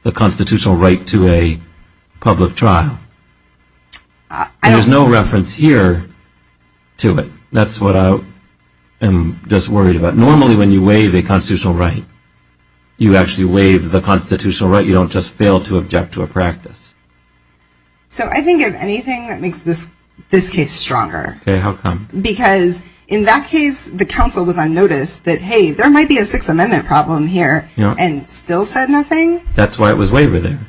the constitutional right to a public trial. There's no reference here to it. That's what I'm just worried about. Normally, when you waive a constitutional right, you actually waive the constitutional right. You don't just fail to object to a practice. So I didn't give anything that makes this case stronger. Okay, how come? Because in that case, the counsel was on notice that, hey, there might be a Sixth Amendment problem here, and still said nothing. That's why it was waived there.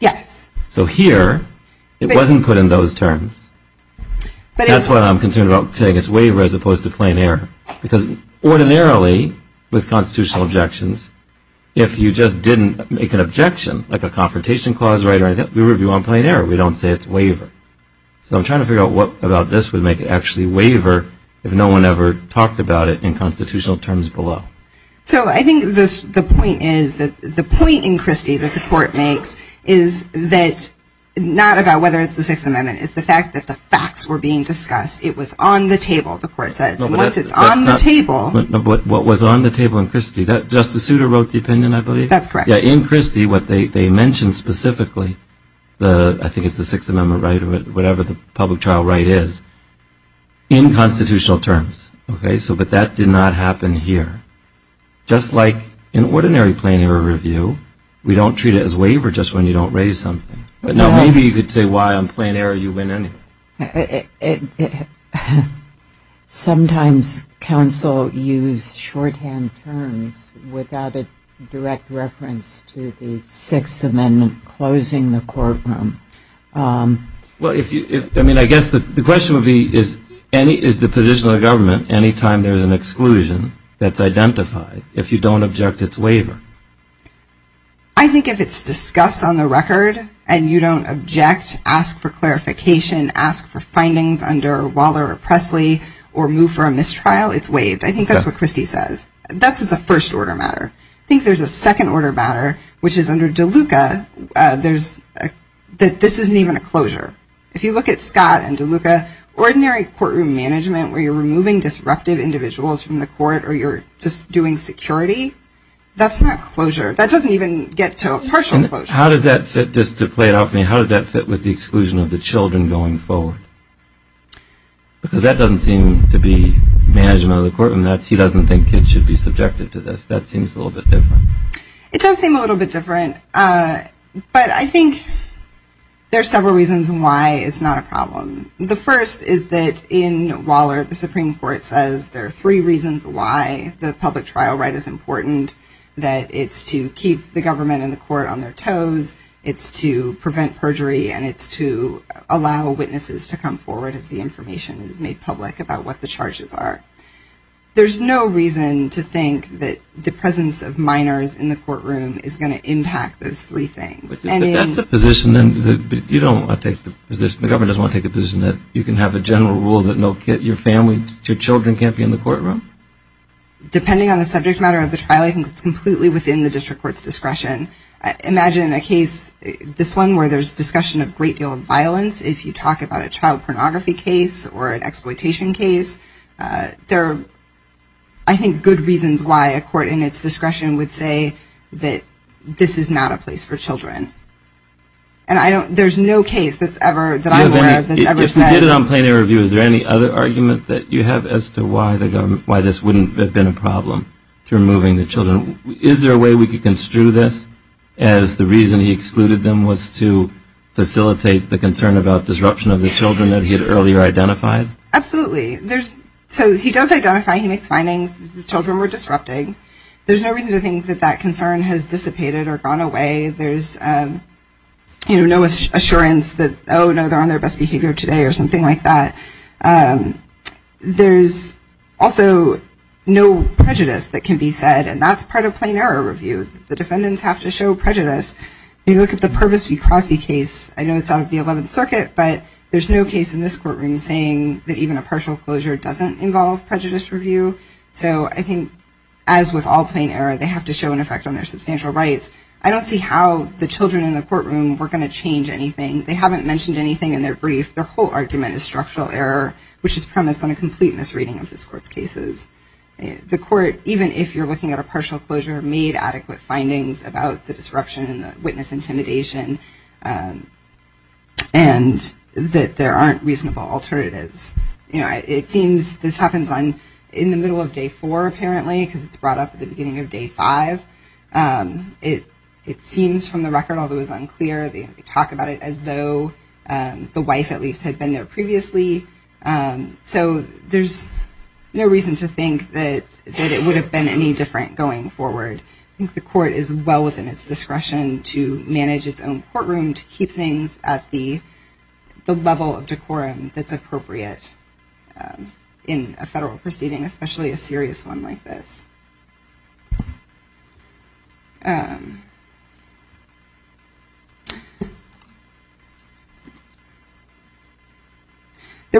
Yes. So here, it wasn't put in those terms. That's why I'm concerned about saying it's waiver as opposed to plain error. Because ordinarily, with constitutional objections, if you just didn't make an objection, like a confrontation clause, right, we don't say it's waiver. So I'm trying to figure out what about this would make it actually waiver if no one ever talked about it in constitutional terms below. So I think the point is that the point in Christie that the court makes is that not about whether it's the Sixth Amendment. It's the fact that the facts were being discussed. It was on the table, the court said. And once it's on the table. But what was on the table in Christie? Justice Souter wrote the opinion, I believe. That's correct. In Christie, what they mentioned specifically, I think it's the Sixth Amendment right or whatever the public trial right is, in constitutional terms. Okay? So that that did not happen here. Just like in ordinary plain error review, we don't treat it as waiver just when you don't raise something. Now, maybe you could say why on plain error you win anything. Sometimes counsel use shorthand terms without a direct reference to the Sixth Amendment closing the courtroom. Well, I mean, I guess the question would be is the position of the government any time there's an exclusion that's identified if you don't object it's waiver? I think if it's discussed on the record and you don't object, ask for clarification, ask for findings under Waller or Pressley or move for a mistrial, it's waived. I think that's what Christie says. That's a first order matter. I think there's a second order matter, which is under DeLuca, that this isn't even a closure. If you look at Scott and DeLuca, ordinary courtroom management where you're removing disruptive individuals from the court or you're just doing security, that's not closure. That doesn't even get to a partial closure. How does that fit, just to play it off for me, how does that fit with the exclusion of the children going forward? Because that doesn't seem to be management of the courtroom. He doesn't think they should be subjected to this. That seems a little bit different. It does seem a little bit different, but I think there's several reasons why it's not a problem. The first is that in Waller, the Supreme Court says there are three reasons why the public trial right is important, that it's to keep the government and the court on their toes, it's to prevent perjury, and it's to allow witnesses to come forward if the information is made public about what the charges are. There's no reason to think that the presence of minors in the courtroom is going to impact those three things. But that's the position. The government doesn't want to take the position that you can have a general rule that your family, your children can't be in the courtroom? Depending on the subject matter of the trial, I think it's completely within the district court's discretion. Imagine a case, this one, where there's a discussion of a great deal of violence, if you talk about a child pornography case or an exploitation case, there are, I think, good reasons why a court in its discretion would say that this is not a place for children. And there's no case that's ever said... If we did it on plenary review, is there any other argument that you have as to why this wouldn't have been a problem to removing the children? Is there a way we could construe this as the reason he excluded them was to facilitate the concern about disruption of the children that he had earlier identified? Absolutely. So he does identify, he makes findings that the children were disrupting. There's no reason to think that that concern has dissipated or gone away. There's no assurance that, oh, no, they're on their best behavior today or something like that. There's also no prejudice that can be said, and that's part of plenary review. The defendants have to show prejudice. If you look at the Purvis v. Crosby case, I know it's out of the 11th Circuit, but there's no case in this courtroom saying that even a partial closure doesn't involve prejudice review. So I think, as with all plenary, they have to show an effect on their substantial rights. I don't see how the children in the courtroom were going to change anything. They haven't mentioned anything in their brief. Their whole argument is structural error, which is premised on a complete misreading of this court's cases. The court, even if you're looking at a partial closure, made adequate findings about the disruption and the witness intimidation and that there aren't reasonable alternatives. You know, it seems this happens in the middle of day four, apparently, because it's brought up at the beginning of day five. It seems from the record, although it's unclear, they talk about it as though the wife, at least, had been there previously. So there's no reason to think that it would have been any different going forward. I think the court is well within its discretion to manage its own courtroom, to keep things at the level of decorum that's appropriate in a federal proceeding, especially a serious one like this. There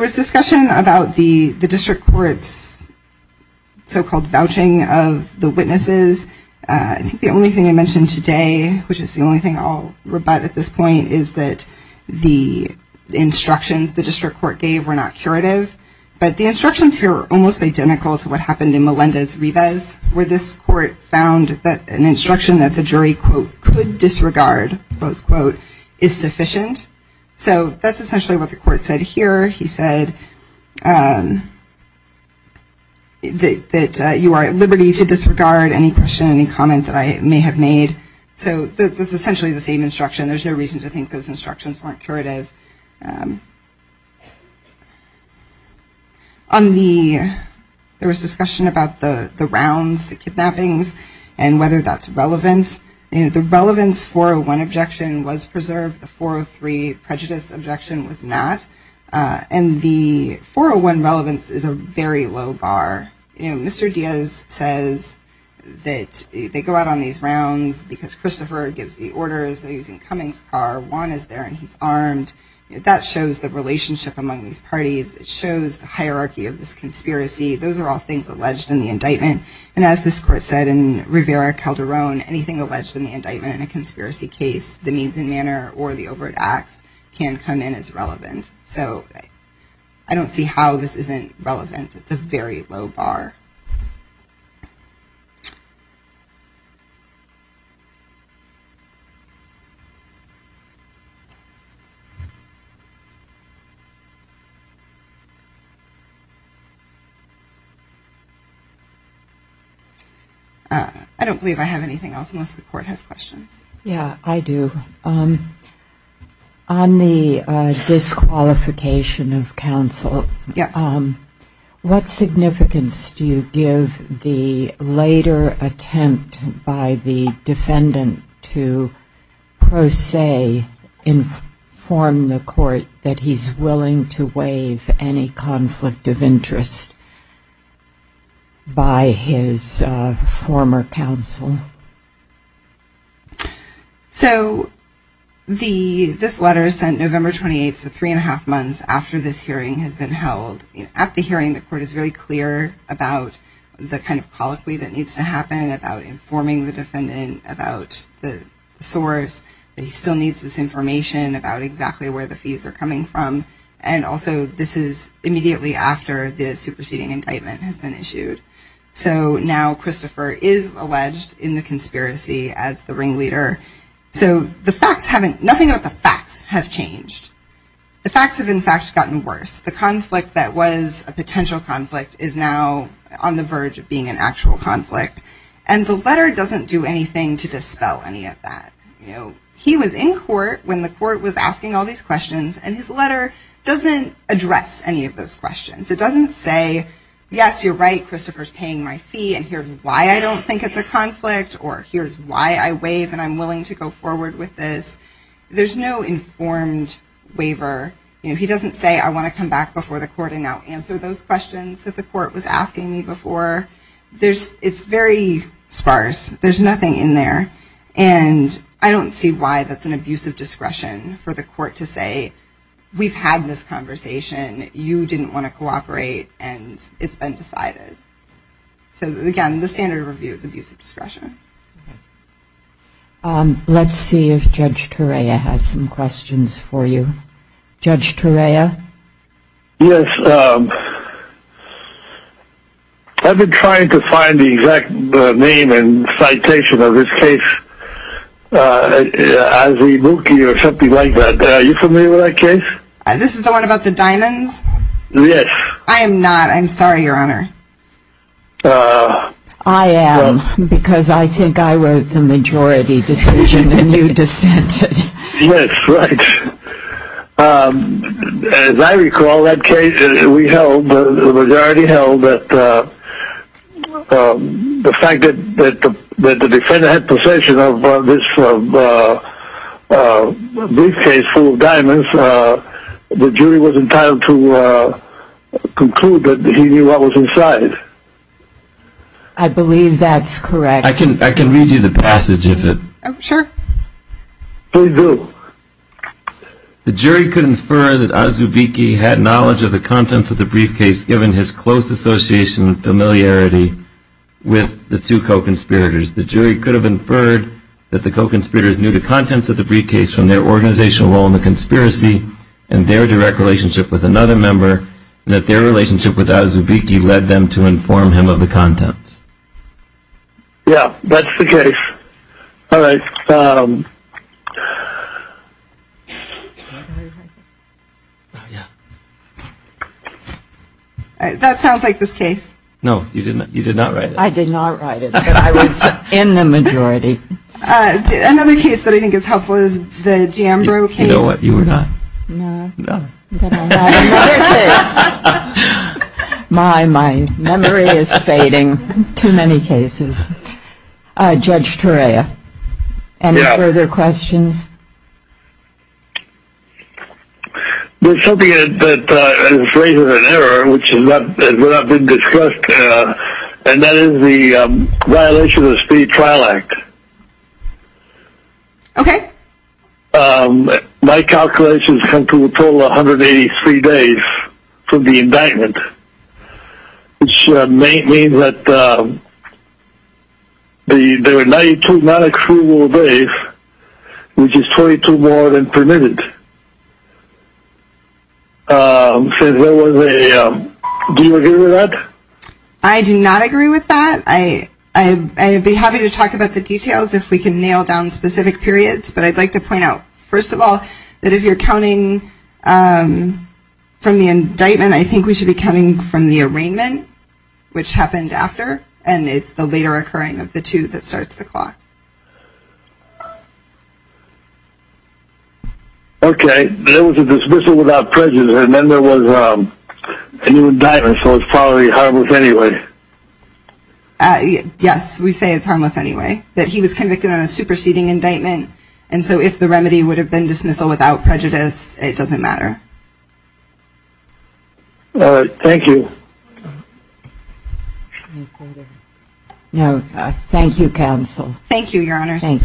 was discussion about the district court's so-called vouching of the witnesses. I think the only thing they mentioned today, which is the only thing I'll rebut at this point, is that the instructions the district court gave were not curative. But the instructions here are almost identical to what happened in Melendez-Rivas, where this court found that an instruction that the jury, quote, could disregard, quote, quote, is sufficient. So that's essentially what the court said here. He said that you are at liberty to disregard any question, any comments that I may have made. So that's essentially the same instruction. There's no reason to think those instructions weren't curative. There was discussion about the rounds, the kidnappings, and whether that's relevant. The relevance 401 objection was preserved. The 403 prejudice objection was not. And the 401 relevance is a very low bar. Mr. Diaz says that they go out on these rounds because Christopher gives the orders. He's in Cummings' power. Juan is there, and he's armed. That shows the relationship among these parties. It shows the hierarchy of this conspiracy. Those are all things alleged in the indictment. And as this court said in Rivera-Calderon, anything alleged in the indictment in a conspiracy case, the means and manner, or the overt act, can come in as relevant. So I don't see how this isn't relevant. It's a very low bar. I don't believe I have anything else unless the court has questions. Yeah, I do. On the disqualification of counsel, what significance do you give the later attempt by the defendant to, per se, inform the court that he's willing to waive any conflict of interest by his former counsel? So this letter is sent November 28th, so three and a half months after this hearing has been held. At the hearing, the court is very clear about the kind of policy that needs to happen, about informing the defendant about the source, that he still needs this information about exactly where the fees are coming from. And also, this is immediately after the superseding indictment has been issued. So now Christopher is alleged in the conspiracy as the ringleader. So nothing about the facts has changed. The facts have, in fact, gotten worse. The conflict that was a potential conflict is now on the verge of being an actual conflict. And the letter doesn't do anything to dispel any of that. He was in court when the court was asking all these questions, and his letter doesn't address any of those questions. It doesn't say, yes, you're right, Christopher's paying my fee, and here's why I don't think it's a conflict, or here's why I waive and I'm willing to go forward with this. There's no informed waiver. He doesn't say, I want to come back before the court and now answer those questions that the court was asking me before. It's very sparse. There's nothing in there. And I don't see why that's an abuse of discretion for the court to say, we've had this conversation, you didn't want to cooperate, and it's been decided. So, again, the standard review is abuse of discretion. Let's see if Judge Torea has some questions for you. Judge Torea? Yes. I've been trying to find the exact name and citation of this case. Ivy Wilkie or something like that. Are you familiar with that case? This is the one about the Dinans? Yes. I am not. I'm sorry, Your Honor. I am, because I think I wrote the majority decision and you dissented. Yes, right. As I recall, that case we held, the majority held that the fact that the defendant had possession of this briefcase full of diamonds, the jury was entitled to conclude that he knew what was inside. I believe that's correct. I can read you the passage of it. Sure. Please do. The jury could infer that Ivy Wilkie had knowledge of the contents of the briefcase, given his close association and familiarity with the two co-conspirators. The jury could have inferred that the co-conspirators knew the contents of the briefcase from their organizational role in the conspiracy and their direct relationship with another member, and that their relationship with Ivy Wilkie led them to inform him of the contents. Yes, that's the case. All right. That sounds like this case. No, you did not write it. I did not write it. I was in the majority. Another case that I think is helpful is the Jambro case. You know what? You were not. No? No. My memory is fading. Too many cases. Judge Torea, any further questions? There's something that is greater than error, which has not been discussed, and that is the violation of the Speed Trial Act. Okay. My calculations come to a total of 183 days from the indictment, which may mean that there are 92 not accruable days, which is 22 more than permitted. Do you agree with that? I do not agree with that. I'd be happy to talk about the details if we can nail down specific periods, but I'd like to point out, first of all, that if you're counting from the indictment, then I think we should be counting from the arraignment, which happened after, and it's the later occurring of the two that starts the clock. Okay. There was a dismissal without prejudice, and then there was a new indictment, so it's probably harmless anyway. Yes, we say it's harmless anyway. He was convicted on a superseding indictment, and so if the remedy would have been dismissal without prejudice, it doesn't matter. Thank you. Thank you, counsel. Thank you, Your Honor. Thank you.